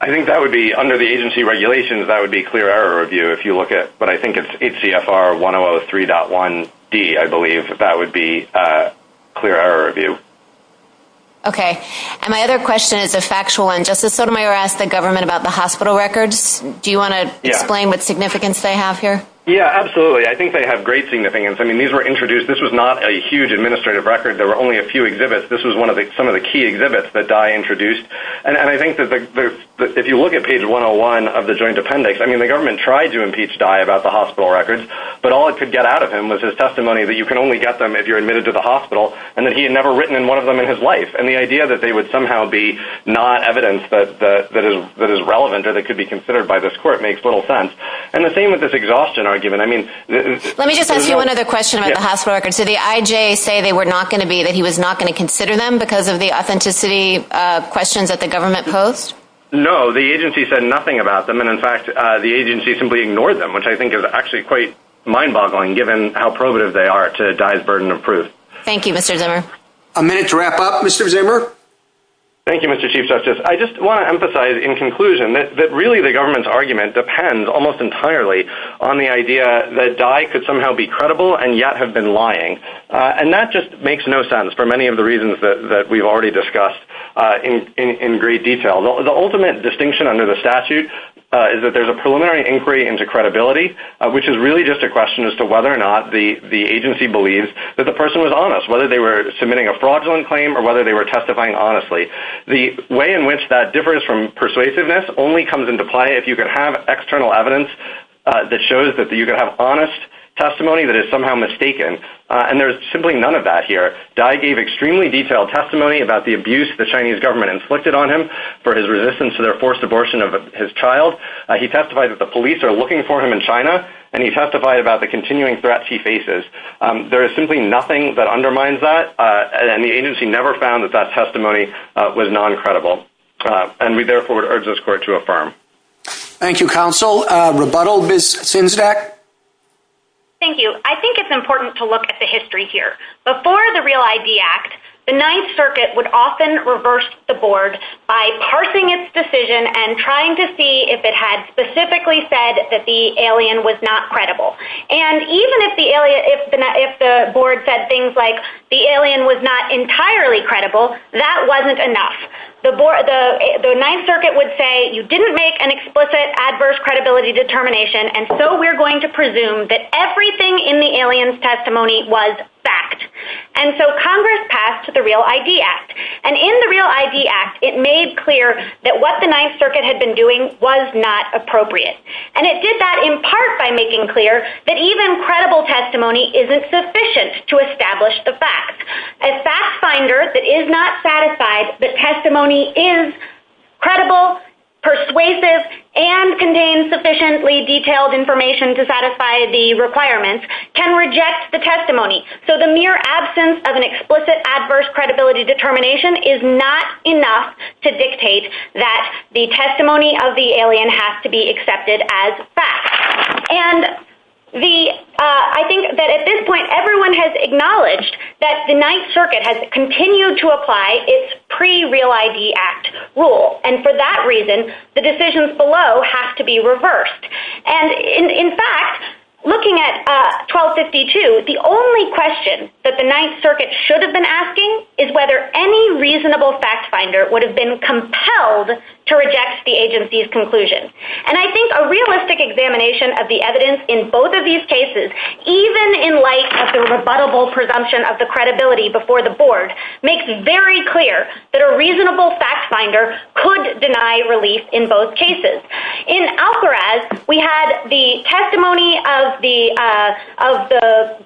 I think that would be, under the agency regulations, that would be clear error review if you look at, but I think it's HCFR 1003.1D, I believe, that would be clear error review. Okay. And my other question is a factual one. Justice Sotomayor asked the government about the hospital records. Do you want to explain what significance they have here? Yeah, absolutely. I think they have great significance. I mean, these were introduced. This was not a huge administrative record. There were only a few exhibits. This was one of the key exhibits that Dye introduced, and I think that if you look at page 101 of the Joint Appendix, I mean, the government tried to impeach Dye about the hospital records, but all it could get out of him was his testimony that you can only get them if you're admitted to the hospital and that he had never written in one of them in his life, and the idea that they would somehow be not evidence that is relevant or that could be considered by this court makes little sense. And the same with this exhaustion argument. Let me just ask you another question about the hospital records. Did the IJ say they were not going to be, that he was not going to consider them because of the authenticity questions that the government posed? No, the agency said nothing about them, and, in fact, the agency simply ignored them, which I think is actually quite mind-boggling given how prohibitive they are to Dye's burden of proof. Thank you, Mr. Zimmer. A minute to wrap up, Mr. Zimmer. Thank you, Mr. Chief Justice. I just want to emphasize in conclusion that really the government's argument depends almost entirely on the idea that Dye could somehow be credible and yet have been lying, and that just makes no sense for many of the reasons that we've already discussed in great detail. The ultimate distinction under the statute is that there's a preliminary inquiry into credibility, which is really just a question as to whether or not the agency believes that the person was honest, whether they were submitting a fraudulent claim or whether they were testifying honestly. The way in which that differs from persuasiveness only comes into play if you can have external evidence that shows that you can have honest testimony that is somehow mistaken, and there's simply none of that here. Dye gave extremely detailed testimony about the abuse the Chinese government inflicted on him for his resistance to their forced abortion of his child. He testified that the police are looking for him in China, and he testified about the continuing threats he faces. There is simply nothing that undermines that, and the agency never found that that testimony was non-credible, and we therefore urge this court to affirm. Thank you, counsel. Rebuttal, Ms. Sinzak? Thank you. I think it's important to look at the history here. Before the REAL-ID Act, the Ninth Circuit would often reverse the board by parsing its decision and trying to see if it had specifically said that the alien was not credible. And even if the board said things like the alien was not entirely credible, that wasn't enough. The Ninth Circuit would say, you didn't make an explicit adverse credibility determination, and so we're going to presume that everything in the alien's testimony was fact. And so Congress passed the REAL-ID Act. And in the REAL-ID Act, it made clear that what the Ninth Circuit had been doing was not appropriate. And it did that in part by making clear that even credible testimony isn't sufficient to establish the facts. A fact finder that is not satisfied that testimony is credible, persuasive, and contains sufficiently detailed information to satisfy the requirements can reject the testimony. So the mere absence of an explicit adverse credibility determination is not enough to dictate that the testimony of the alien has to be accepted as fact. And I think that at this point everyone has acknowledged that the Ninth Circuit has continued to apply its pre-REAL-ID Act rule. And for that reason, the decisions below have to be reversed. And in fact, looking at 1252, the only question that the Ninth Circuit should have been asking is whether any reasonable fact finder would have been compelled to reject the agency's conclusion. And I think a realistic examination of the evidence in both of these cases, even in light of the rebuttable presumption of the credibility before the board, makes very clear that a reasonable fact finder could deny relief in both cases. In Al-Faraz, we had the testimony of the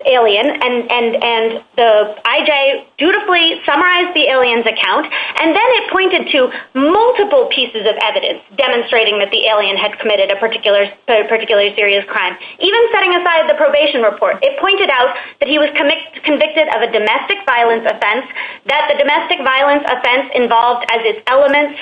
alien, and the IJ dutifully summarized the alien's account. And then it pointed to multiple pieces of evidence demonstrating that the alien had committed a particularly serious crime. Even setting aside the probation report, it pointed out that he was convicted of a domestic violence offense, that the domestic violence offense involved as its elements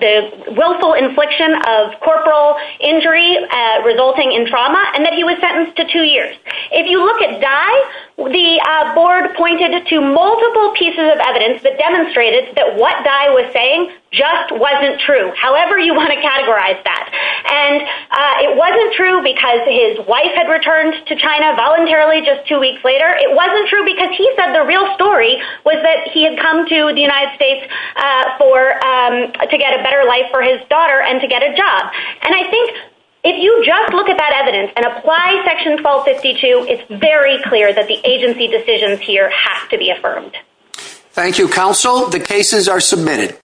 the willful infliction of corporal injury resulting in trauma, and that he was sentenced to two years. If you look at Dai, the board pointed to multiple pieces of evidence that demonstrated that what Dai was saying just wasn't true, however you want to categorize that. And it wasn't true because his wife had returned to China voluntarily just two weeks later. It wasn't true because he said the real story was that he had come to the United States to get a better life for his daughter and to get a job. And I think if you just look at that evidence and apply Section 1252, it's very clear that the agency decisions here have to be affirmed. Thank you, Counsel. The cases are submitted.